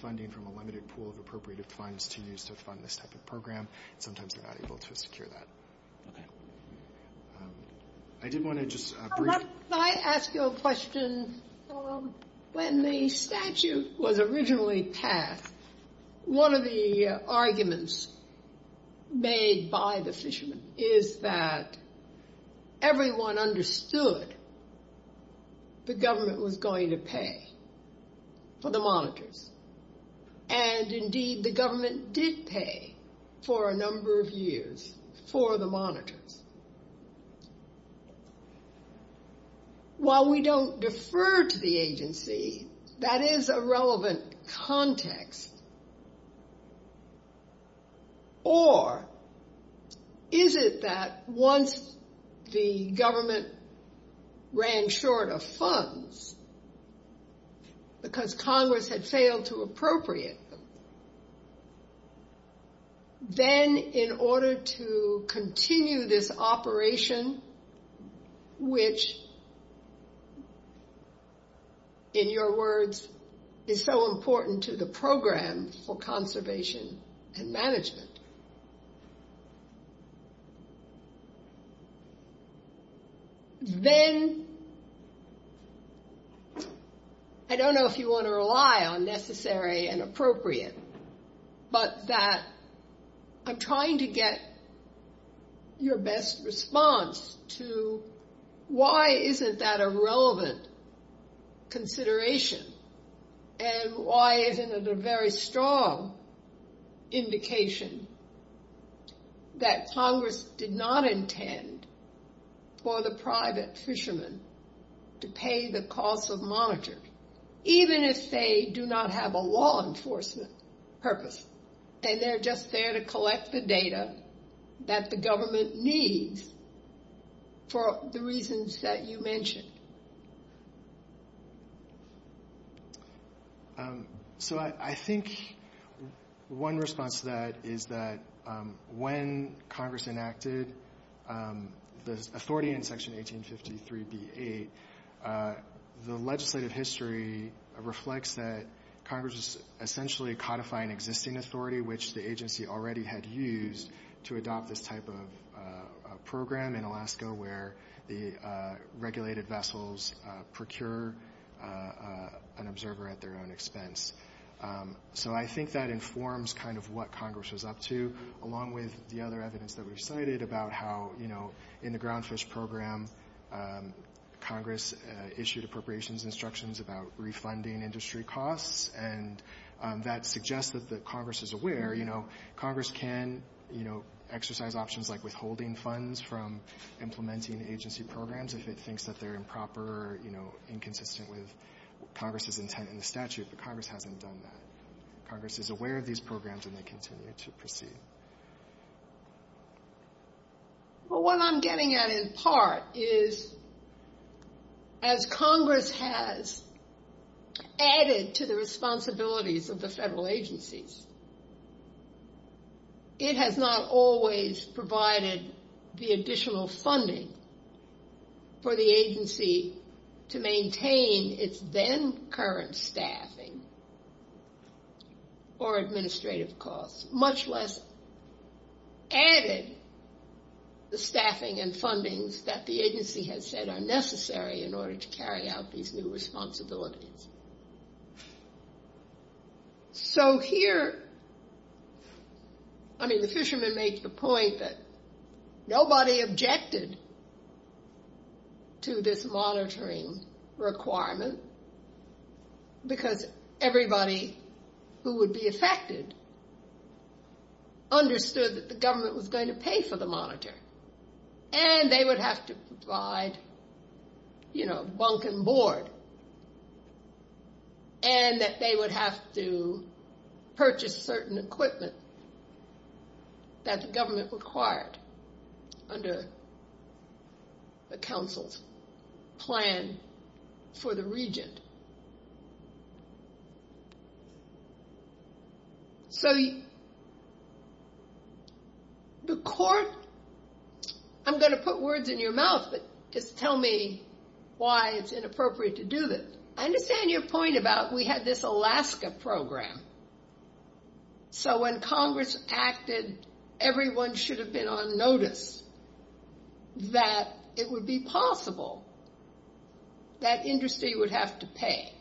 funding from a limited pool of appropriated funds to use to fund this type of program. Sometimes we're not able to secure that. I did want to just brief. Can I ask you a question? When the statute was originally passed, one of the arguments made by the fishermen is that everyone understood the government was going to pay for the monitors. And, indeed, the government did pay for a number of years for the monitors. While we don't defer to the agency, that is a relevant context. Or is it that once the government ran short of funds because Congress had failed to appropriate them, then in order to continue this operation, which, in your words, is so important to the program for conservation and management, then I don't know if you want to rely on necessary and appropriate, but that I'm trying to get your best response to why isn't that a relevant consideration and why isn't it a very strong indication that Congress did not intend for the private fishermen to pay the cost of monitors, even if they do not have a law enforcement purpose and they're just there to collect the data that the government needs for the reasons that you mentioned? So I think one response to that is that when Congress enacted the authority in Section 1853b-8, the legislative history reflects that Congress is essentially codifying existing authority, which the agency already had used to adopt this type of program in Alaska where the regulated vessels procured an observer at their own expense. So I think that informs kind of what Congress was up to, along with the other evidence that we've cited about how in the ground fish program, Congress issued appropriations instructions about refunding industry costs, and that suggests that Congress is aware. Congress can exercise options like withholding funds from implementing agency programs if it thinks that they're improper or inconsistent with Congress's intent and statute, but Congress hasn't done that. Congress is aware of these programs and they continue to proceed. Well, what I'm getting at in part is as Congress has added to the responsibilities of the federal agencies, it has not always provided the additional funding for the agency to maintain its then current staffing or administrative costs, much less added the staffing and funding that the agency has said are necessary in order to carry out these new responsibilities. So here, I mean, the fisherman makes the point that nobody objected to this monitoring requirement because everybody who would be affected understood that the government was going to pay for the monitoring and they would have to provide, you know, bunk and board and that they would have to purchase certain equipment that the government required under the council's plan for the region. So the court, I'm going to put words in your mouth to tell me why it's inappropriate to do this. I understand your point about we had this Alaska program. So when Congress acted, everyone should have been on notice that it would be possible that industry would have to pay.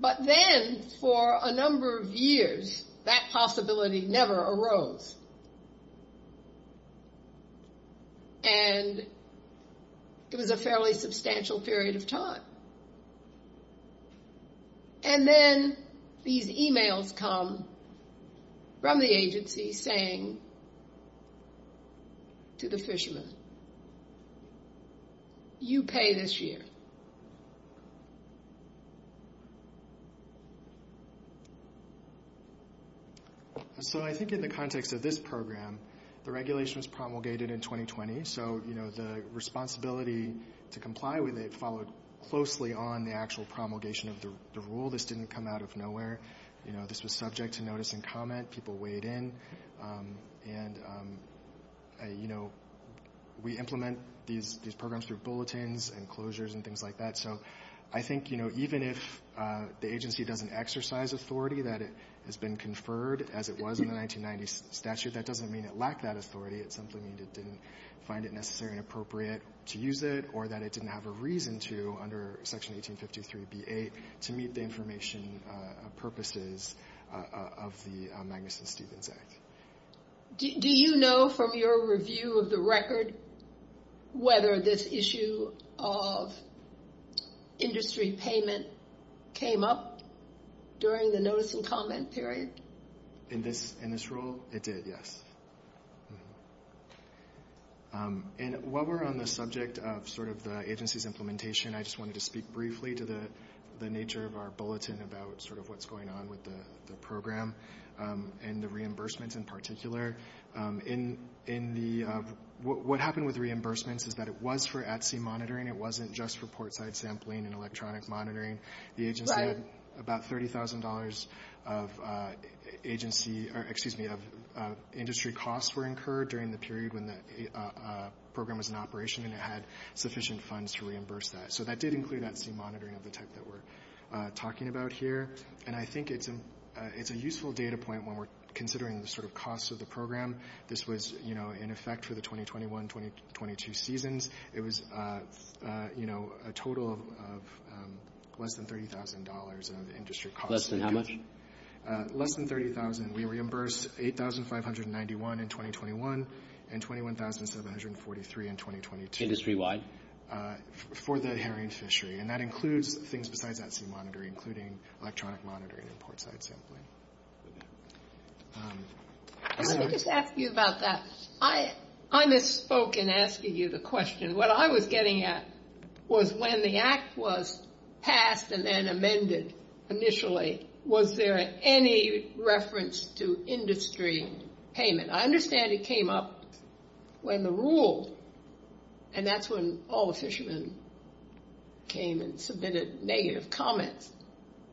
But then for a number of years, that possibility never arose and it was a fairly substantial period of time. And then these emails come from the agency saying to the fisherman, you pay this year. So I think in the context of this program, the regulation was promulgated in 2020, so the responsibility to comply with it followed closely on the actual promulgation of the rule. This didn't come out of nowhere. This was subject to notice and comment. People weighed in. We implement these programs through bulletins and closures and things like that. So I think even if the agency doesn't exercise authority that it has been conferred as it was in the 1990 statute, that doesn't mean it lacked that authority. It simply means it didn't find it necessary and appropriate to use it or that it didn't have a reason to under Section 1853BA to meet the information purposes of the Magnuson-Stevens Act. Do you know from your review of the record whether this issue of industry payment came up during the notice and comment period? In this rule, it did, yes. And while we're on the subject of sort of the agency's implementation, I just wanted to speak briefly to the nature of our bulletin about sort of what's going on with the program and the reimbursement in particular. What happened with reimbursement is that it was for Etsy monitoring. It wasn't just for portside sampling and electronic monitoring. About $30,000 of industry costs were incurred during the period when the program was in operation and it had sufficient funds to reimburse that. So that did include Etsy monitoring of the type that we're talking about here. And I think it's a useful data point when we're considering the sort of costs of the program. This was, you know, in effect for the 2021-2022 seasons. It was, you know, a total of less than $30,000 of industry costs. Less than how much? Less than $30,000. We reimbursed $8,591 in 2021 and $21,743 in 2022. Industry-wide? For that herring fishery. And that includes things besides Etsy monitoring, including electronic monitoring of portside sampling. Let me just ask you about that. I misspoke in asking you the question. What I was getting at was when the act was passed and then amended initially, was there any reference to industry payment? I understand it came up when the rules, and that's when all the fishermen came and submitted negative comments.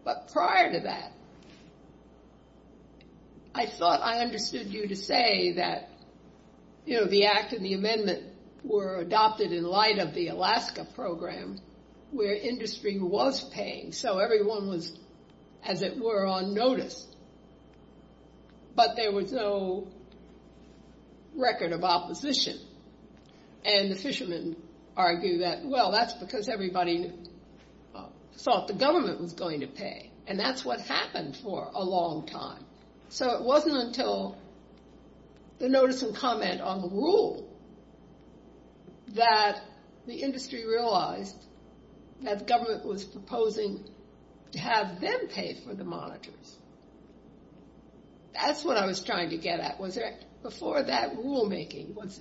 But prior to that, I thought I understood you to say that, you know, the act and the amendment were adopted in light of the Alaska program where industry was paying. So everyone was, as it were, on notice. But there was no record of opposition. And the fishermen argued that, well, that's because everybody thought the government was going to pay. And that's what happened for a long time. So it wasn't until the notice and comment on the rule that the industry realized that the government was proposing to have them pay for the monitors. That's what I was trying to get at. Before that rulemaking, was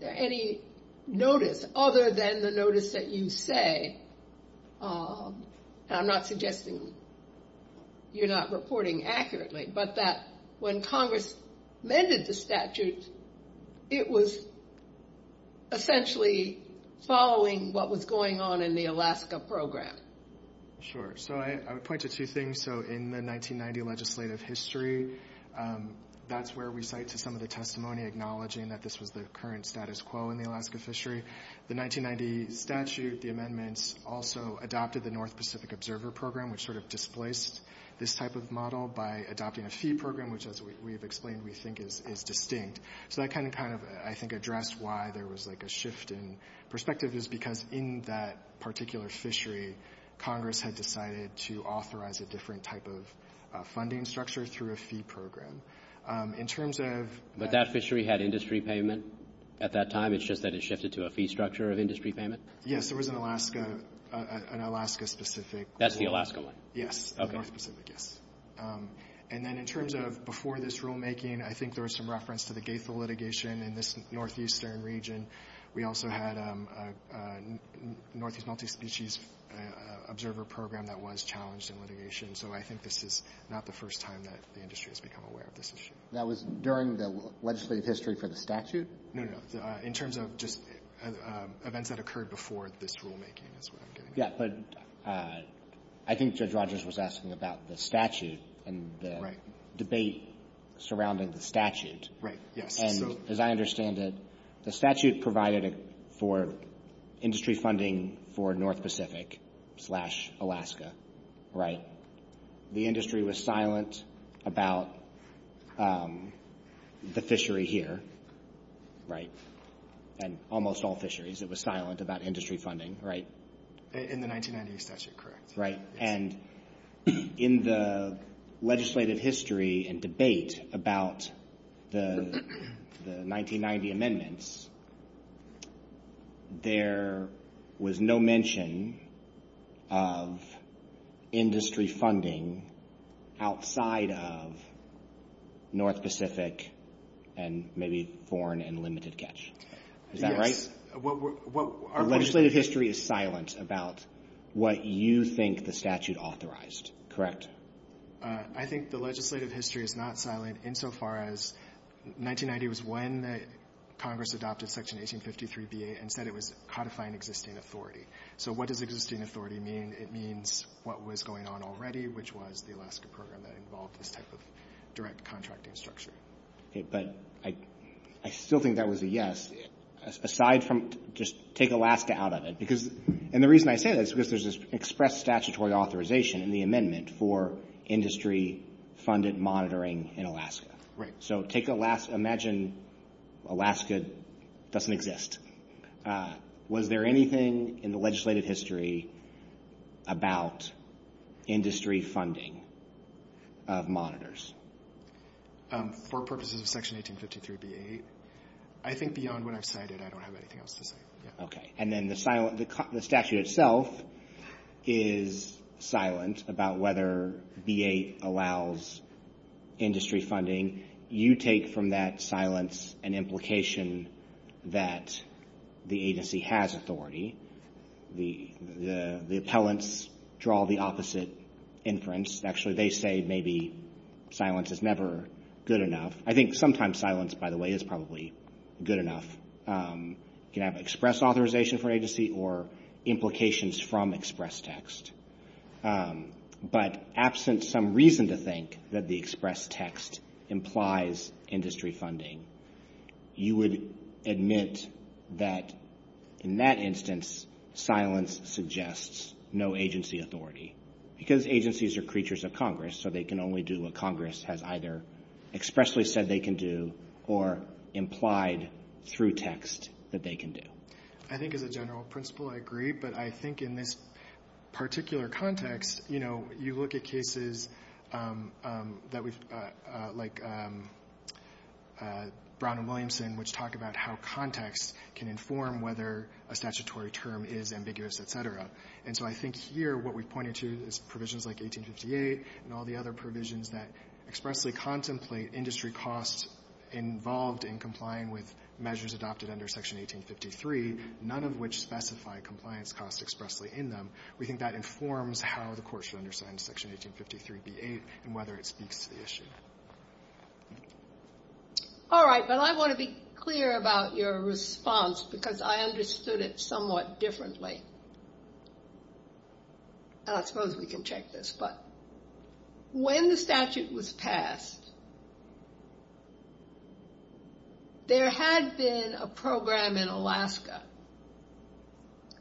there any notice other than the notice that you say, and I'm not suggesting you're not reporting accurately, but that when Congress amended the statute, it was essentially following what was going on in the Alaska program? Sure. So I would point to two things. So in the 1990 legislative history, that's where we cite some of the testimony acknowledging that this was the current status quo in the Alaska fishery. The 1990 statute, the amendments, also adopted the North Pacific Observer Program, which sort of displaced this type of model by adopting a fee program, which as we've explained, we think is distinct. So that kind of, I think, addressed why there was like a shift in perspective, is because in that particular fishery, Congress had decided to authorize a different type of funding structure through a fee program. But that fishery had industry payment at that time? It's just that it shifted to a fee structure of industry payment? Yes, there was an Alaska-specific. That's the Alaska one? Yes, the Alaska Pacific, yes. And then in terms of before this rulemaking, I think there was some reference to the gateful litigation in this northeastern region. We also had a Northeast Multispecies Observer Program that was challenged in litigation. So I think this is not the first time that the industry has become aware of this issue. That was during the legislative history for the statute? No, no. In terms of just events that occurred before this rulemaking. Yes, but I think Judge Rogers was asking about the statute and the debate surrounding the statute. Right, yes. And as I understand it, the statute provided for industry funding for North Pacific slash Alaska, right? The industry was silent about the fishery here, right? And almost all fisheries, it was silent about industry funding, right? In the 1990 statute, correct. Right, and in the legislative history and debate about the 1990 amendments, there was no mention of industry funding outside of North Pacific and maybe foreign and limited catch. Is that right? The legislative history is silent about what you think the statute authorized, correct? I think the legislative history is not silent insofar as 1990 was when Congress adopted Section 1853B and said it was codifying existing authority. So what does existing authority mean? It means what was going on already, which was the Alaska program that involved this type of direct contracting structure. But I still think that was a yes, aside from just take Alaska out of it. And the reason I say that is because there's this express statutory authorization in the amendment for industry-funded monitoring in Alaska. So imagine Alaska doesn't exist. Was there anything in the legislative history about industry funding of monitors? For purposes of Section 1853B-8, I think beyond what I cited, I don't have anything else to say. Okay, and then the statute itself is silent about whether B-8 allows industry funding. You take from that silence an implication that the agency has authority. The appellants draw the opposite inference. Actually, they say maybe silence is never good enough. I think sometimes silence, by the way, is probably good enough. You can have express authorization for agency or implications from express text. But absent some reason to think that the express text implies industry funding, you would admit that in that instance silence suggests no agency authority because agencies are creatures of Congress, so they can only do what Congress has either expressly said they can do or implied through text that they can do. I think as a general principle I agree, but I think in this particular context, you look at cases like Brown and Williamson, which talk about how context can inform whether a statutory term is ambiguous, et cetera. So I think here what we've pointed to is provisions like 1858 and all the other provisions that expressly contemplate industry costs involved in complying with measures adopted under Section 1853, none of which specify compliance costs expressly in them. We think that informs how the court should understand Section 1853b8 and whether it speaks to the issue. All right, but I want to be clear about your response because I understood it somewhat differently. I suppose we can check this. When the statute was passed, there had been a program in Alaska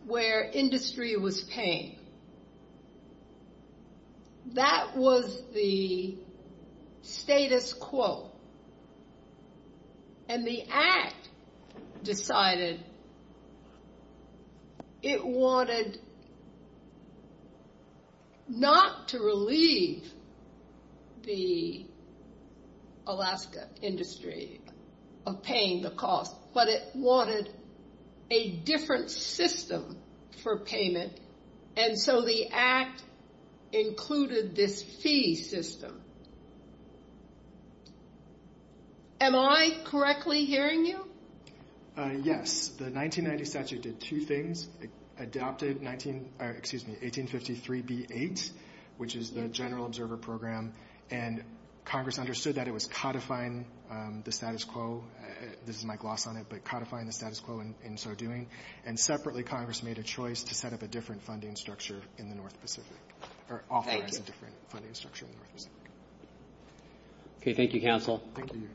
where industry was paying. That was the status quo, and the Act decided it wanted not to relieve the Alaska industry of paying the cost, but it wanted a different system for payment, and so the Act included this fee system. Am I correctly hearing you? Yes. The 1990 statute did two things. It adopted 1853b8, which is the general observer program, and Congress understood that it was codifying the status quo. This is my gloss on it, but codifying the status quo in so doing, and separately Congress made a choice to set up a different funding structure in the North Pacific. Thank you. Okay, thank you, counsel. Thank you.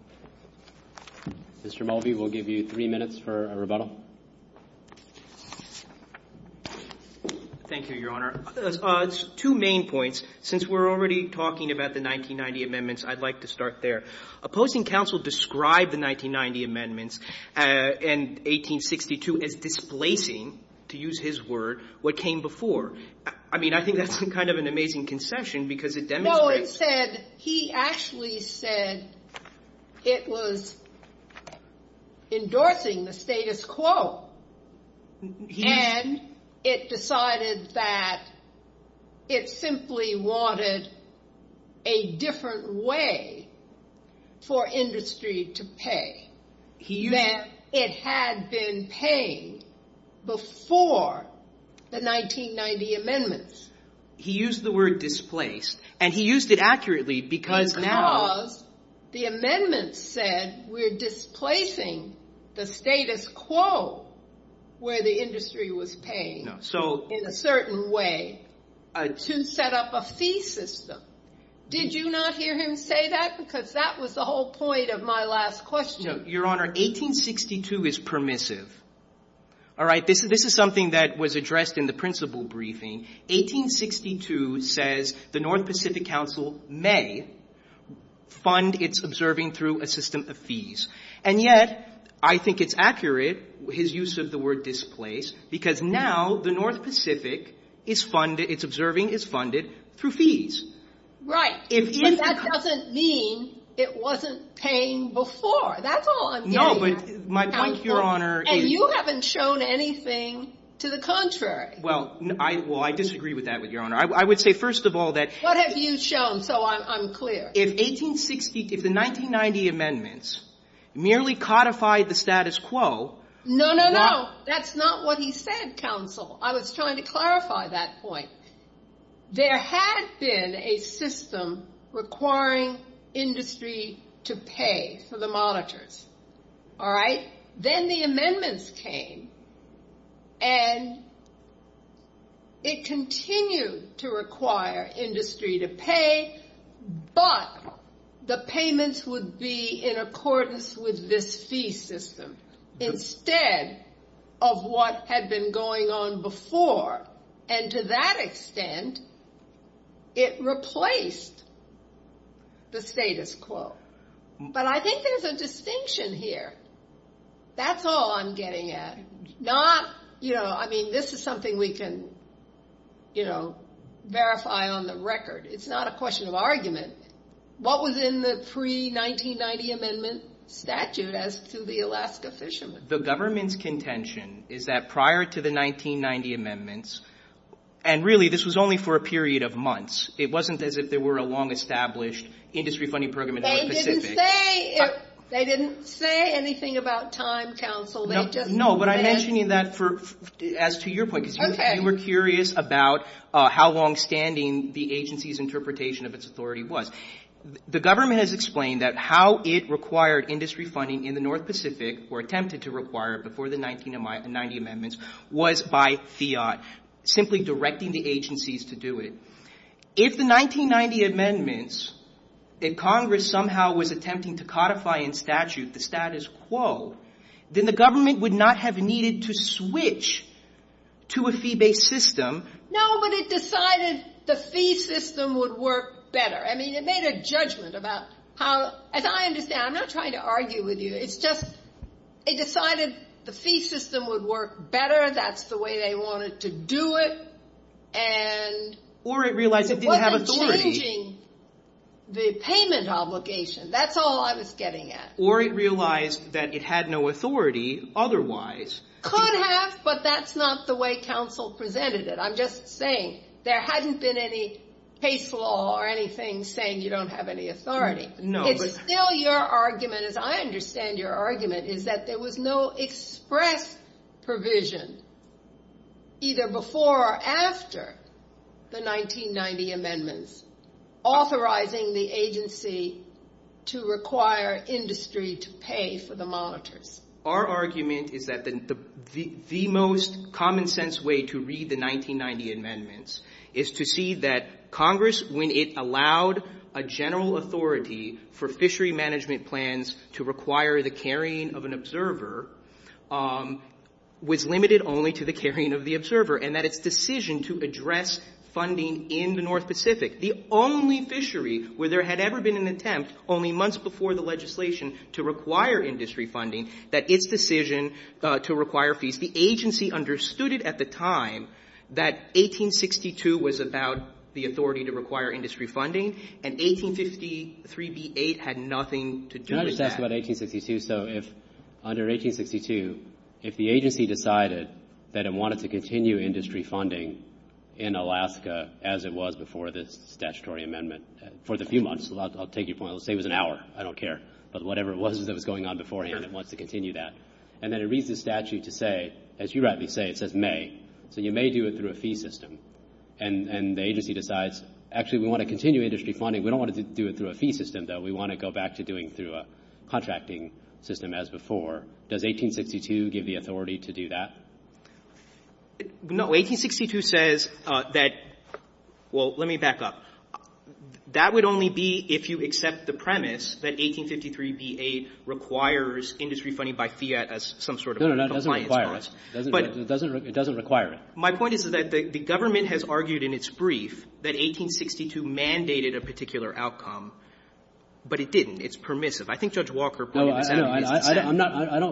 Mr. Mulvey, we'll give you three minutes for a rebuttal. Thank you, Your Honor. Two main points. Since we're already talking about the 1990 amendments, I'd like to start there. A posting counsel described the 1990 amendments and 1862 as displacing, to use his word, what came before. I mean, I think that's kind of an amazing concession because it demonstrates... No, he actually said it was endorsing the status quo, and it decided that it simply wanted a different way for industry to pay, that it had been paying before the 1990 amendments. He used the word displaced, and he used it accurately because... Because the amendments said we're displacing the status quo where the industry was paying in a certain way to set up a fee system. Did you not hear him say that? Because that was the whole point of my last question. Your Honor, 1862 is permissive. All right, this is something that was addressed in the principal briefing. 1862 says the North Pacific Council may fund its observing through a system of fees, and yet I think it's accurate, his use of the word displaced, because now the North Pacific, its observing is funded through fees. Right, and that doesn't mean it wasn't paying before. That's all I'm getting at. No, but, Your Honor... And you haven't shown anything to the contrary. Well, I disagree with that, Your Honor. I would say first of all that... What have you shown so I'm clear? In 1862, the 1990 amendments merely codified the status quo. No, no, no. That's not what he said, counsel. I was trying to clarify that point. There had been a system requiring industry to pay for the monitors, all right? Then the amendments came, and it continues to require industry to pay, but the payments would be in accordance with this fee system instead of what had been going on before, and to that extent it replaced the status quo. But I think there's a distinction here. That's all I'm getting at. Not, you know, I mean, this is something we can, you know, verify on the record. It's not a question of argument. What was in the pre-1990 amendment statute as to the Alaska fishermen? The government's contention is that prior to the 1990 amendments, and really this was only for a period of months. It wasn't as if there were a long-established industry funding program in the North Pacific. They didn't say anything about time, counsel. No, but I'm mentioning that as to your point. You were curious about how long-standing the agency's interpretation of its authority was. The government has explained that how it required industry funding in the North Pacific or attempted to require it before the 1990 amendments was by FIAT, simply directing the agencies to do it. If the 1990 amendments that Congress somehow was attempting to codify in statute, the status quo, then the government would not have needed to switch to a fee-based system. No, but it decided the fee system would work better. I mean, it made a judgment about how, as I understand, I'm not trying to argue with you. It's just it decided the fee system would work better. That's the way they wanted to do it, and it wasn't changing the payment obligation. That's all I was getting at. Or it realized that it had no authority otherwise. Could have, but that's not the way counsel presented it. I'm just saying there hadn't been any case law or anything saying you don't have any authority. It's still your argument, as I understand your argument, is that there was no express provision either before or after the 1990 amendments authorizing the agency to require industry to pay for the monitors. Our argument is that the most common sense way to read the 1990 amendments is to see that Congress, when it allowed a general authority for fishery management plans to require the carrying of an observer, was limited only to the carrying of the observer and that its decision to address funding in the North Pacific, the only fishery where there had ever been an attempt only months before the legislation to require industry funding, that its decision to require fees, if the agency understood it at the time that 1862 was about the authority to require industry funding and 1863b-8 had nothing to do with that. Can I just ask about 1862? So under 1862, if the agency decided that it wanted to continue industry funding in Alaska as it was before this statutory amendment, for the few months, I'll take your point. I'll say it was an hour. I don't care. But whatever it was that was going on beforehand, it wants to continue that. And then it reads the statute to say, as you rightly say, it says may. So you may do it through a fee system. And the agency decides, actually, we want to continue industry funding. We don't want to do it through a fee system, though. We want to go back to doing it through a contracting system as before. Does 1862 give the authority to do that? No. 1862 says that, well, let me back up. That would only be if you accept the premise that 1863b-8 requires industry funding by fiat as some sort of compliance. No, no, no. It doesn't require it. It doesn't require it. My point is that the government has argued in its brief that 1862 mandated a particular outcome, but it didn't. It's permissive. I think Judge Walker pointed that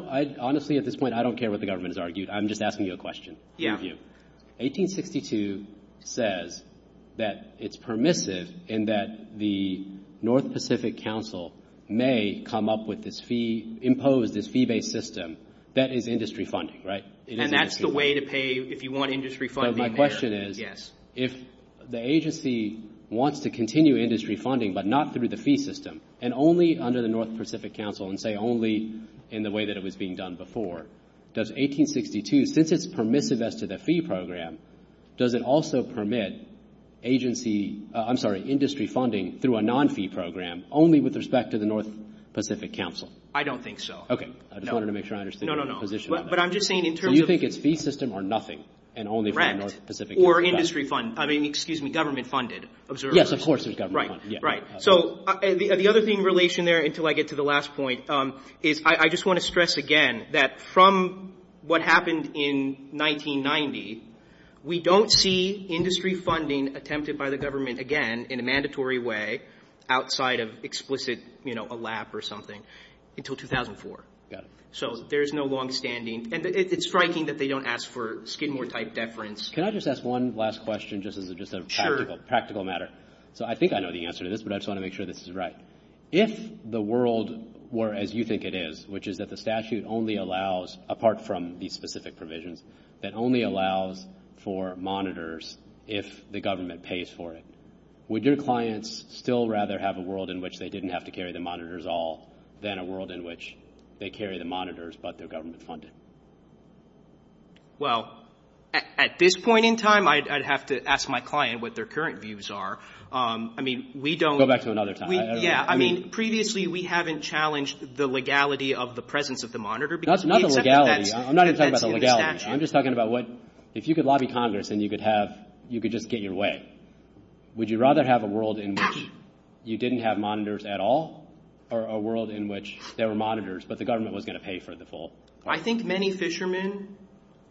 out. Honestly, at this point, I don't care what the government has argued. I'm just asking you a question. Yeah. 1862 says that it's permissive in that the North Pacific Council may come up with this fee, impose this fee-based system that is industry funding, right? And that's the way to pay if you want industry funding. So my question is, if the agency wants to continue industry funding but not through the fee system and only under the North Pacific Council and, say, only in the way that it was being done before, does 1862, since it's permissive as to the fee program, does it also permit industry funding through a non-fee program only with respect to the North Pacific Council? I don't think so. Okay. I just wanted to make sure I understood your position on that. No, no, no. But I'm just saying in terms of... Do you think it's fee system or nothing and only for the North Pacific Council? Rent or industry fund. I mean, excuse me, government-funded observers. Yes, of course it's government-funded. Right, right. So the other thing in relation there until I get to the last point is I just want to stress again that from what happened in 1990, we don't see industry funding attempted by the government again in a mandatory way outside of explicit, you know, a lap or something until 2004. Got it. So there's no longstanding... And it's striking that they don't ask for Skidmore-type deference. Can I just ask one last question just as a practical matter? So I think I know the answer to this, but I just want to make sure this is right. If the world were as you think it is, which is that the statute only allows, apart from these specific provisions, it only allows for monitors if the government pays for it, would your clients still rather have a world in which they didn't have to carry the monitors at all than a world in which they carry the monitors but they're government-funded? Well, at this point in time, I'd have to ask my client what their current views are. I mean, we don't... Go back to another time. Yeah, I mean, previously we haven't challenged the legality of the presence of the monitor. That's not the legality. I'm not even talking about the legality. I'm just talking about what... If you could lobby Congress and you could just get your way, would you rather have a world in which you didn't have monitors at all or a world in which there were monitors but the government was going to pay for the full... I think many fishermen,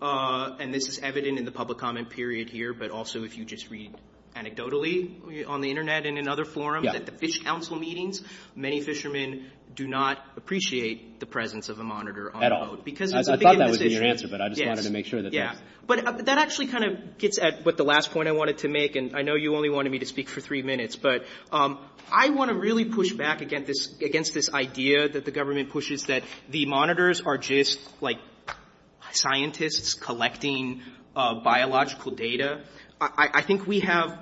and this is evident in the public comment period here, but also if you just read anecdotally on the Internet in another forum, at the fish council meetings, many fishermen do not appreciate the presence of a monitor at all. I thought that was your answer, but I just wanted to make sure that... But that actually kind of gets at the last point I wanted to make, and I know you only wanted me to speak for three minutes, but I want to really push back against this idea that the government pushes that the monitors are just like scientists collecting biological data. I think we have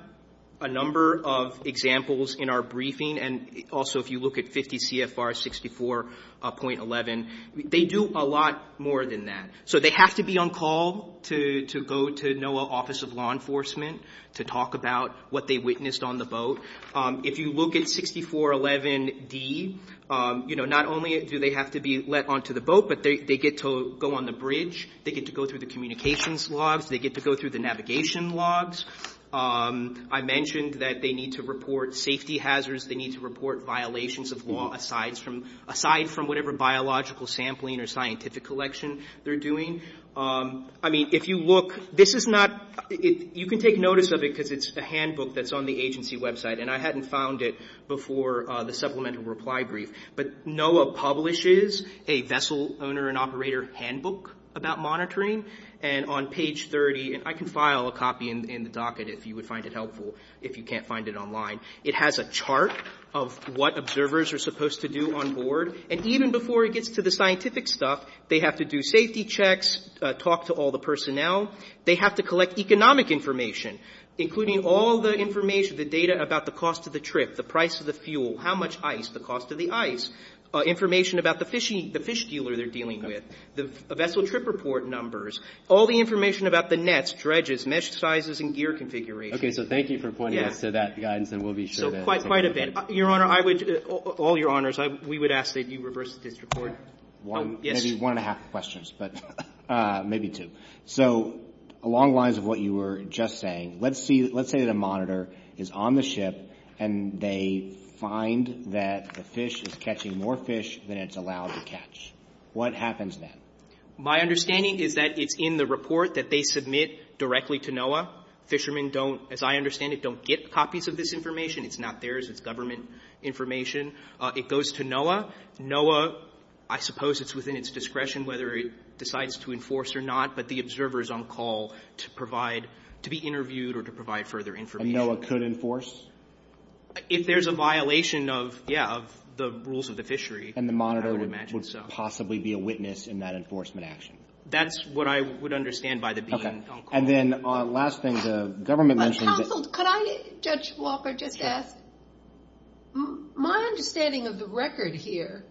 a number of examples in our briefing, and also if you look at 50 CFR 64.11, they do a lot more than that. So they have to be on call to go to NOAA Office of Law Enforcement to talk about what they witnessed on the boat. If you look at 64.11D, not only do they have to be let onto the boat, but they get to go on the bridge. They get to go through the communications logs. They get to go through the navigation logs. I mentioned that they need to report safety hazards. They need to report violations of law aside from whatever biological sampling or scientific collection they're doing. I mean, if you look, this is not... You can take notice of it because it's a handbook that's on the agency website, and I hadn't found it before the supplemental reply brief, but NOAA publishes a vessel owner and operator handbook about monitoring, and on page 30, I can file a copy in the docket if you would find it helpful if you can't find it online. It has a chart of what observers are supposed to do on board, and even before it gets to the scientific stuff, they have to do safety checks, talk to all the personnel. They have to collect economic information, including all the information, the data about the cost of the trip, the price of the fuel, how much ice, the cost of the ice, information about the fish dealer they're dealing with, the vessel trip report numbers, all the information about the nets, dredges, mesh sizes, and gear configuration. Okay, so thank you for pointing out to that guidance, and we'll be sure to... Quite a bit. Your Honor, I would... All your Honors, we would ask that you reverse this report. Maybe one and a half questions, but maybe two. So along the lines of what you were just saying, let's say that a monitor is on the ship, and they find that the fish is catching more fish than it's allowed to catch. What happens then? My understanding is that it's in the report that they submit directly to NOAA. Fishermen, as I understand it, don't get copies of this information. It's not theirs. It's government information. It goes to NOAA. NOAA, I suppose it's within its discretion whether it decides to enforce or not, but the observer is on call to be interviewed or to provide further information. And NOAA could enforce? If there's a violation of the rules of the fishery, I would imagine so. And the monitor would possibly be a witness in that enforcement action. That's what I would understand by the being on call. And then last thing, the government mentioned... Counsel, could I, Judge Walker, just ask? My understanding of the record here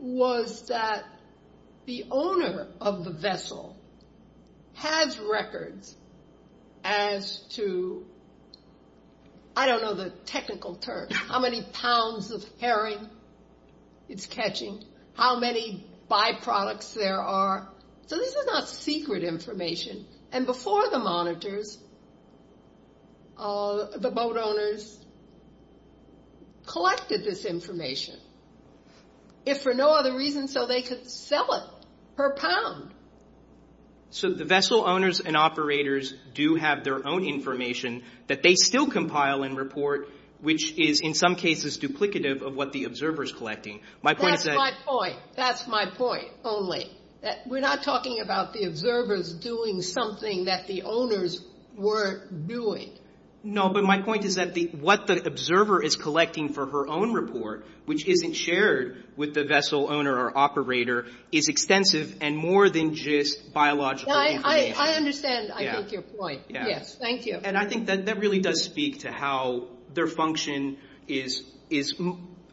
was that the owner of the vessel has records as to, I don't know the technical term, how many pounds of herring it's catching, how many byproducts there are. So this is not secret information. And before the monitors, the boat owners collected this information. If for no other reason, so they could sell it per pound. So the vessel owners and operators do have their own information that they still compile and report, which is in some cases duplicative of what the observer is collecting. That's my point. That's my point only. We're not talking about the observers doing something that the owners were doing. No, but my point is that what the observer is collecting for her own report, which isn't shared with the vessel owner or operator, is extensive and more than just biological information. I understand, I think, your point. Yes. Thank you. And I think that really does speak to how their function is,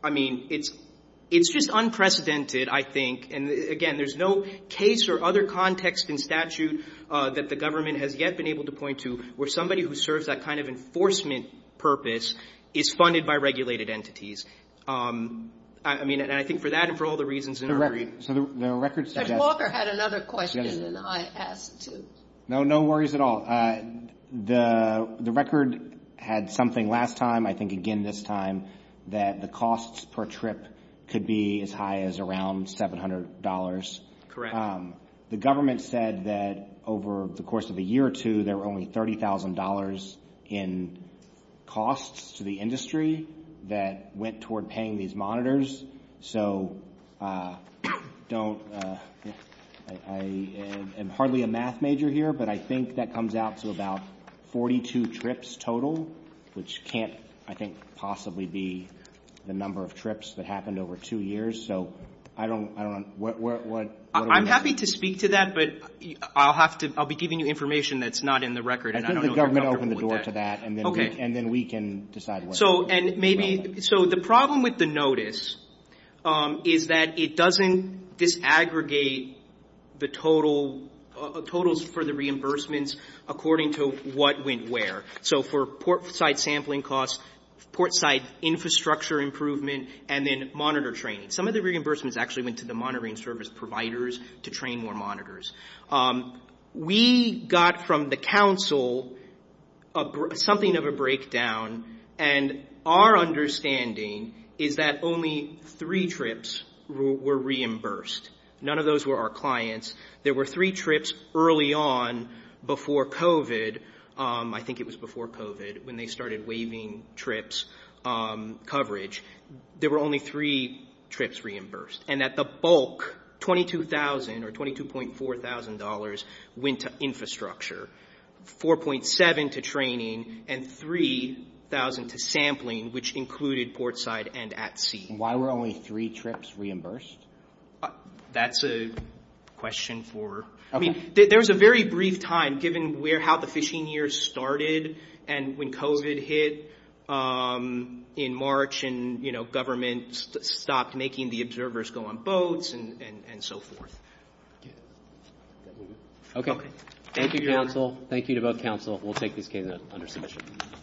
I mean, it's just unprecedented, I think. And, again, there's no case or other context in statute that the government has yet been able to point to where somebody who serves that kind of enforcement purpose is funded by regulated entities. I mean, and I think for that and for all the reasons in the record. So the record said that. And Walker had another question, and I asked, too. No, no worries at all. The record had something last time, I think again this time, that the costs per trip could be as high as around $700. Correct. The government said that over the course of a year or two, there were only $30,000 in costs to the industry that went toward paying these monitors. So I am hardly a math major here, but I think that comes out to about 42 trips total, which can't, I think, possibly be the number of trips that happened over two years. So I don't know. I'm happy to speak to that, but I'll be giving you information that's not in the record. I think the government opened the door to that, and then we can decide what to do. So the problem with the notice is that it doesn't disaggregate the totals for the reimbursements according to what went where. So for portside sampling costs, portside infrastructure improvement, and then monitor training. Some of the reimbursements actually went to the monitoring service providers to train more monitors. We got from the council something of a breakdown, and our understanding is that only three trips were reimbursed. None of those were our clients. There were three trips early on before COVID. I think it was before COVID when they started waiving trips coverage. There were only three trips reimbursed, and at the bulk, $22,000 or $22,400 went to infrastructure, $4,700 to training, and $3,000 to sampling, which included portside and at sea. Why were only three trips reimbursed? That's a question for... There was a very brief time, given how the fishing year started, and when COVID hit in March and government stopped making the observers go on boats and so forth. Okay. Thank you, council. Thank you to both council. We'll take this case under submission.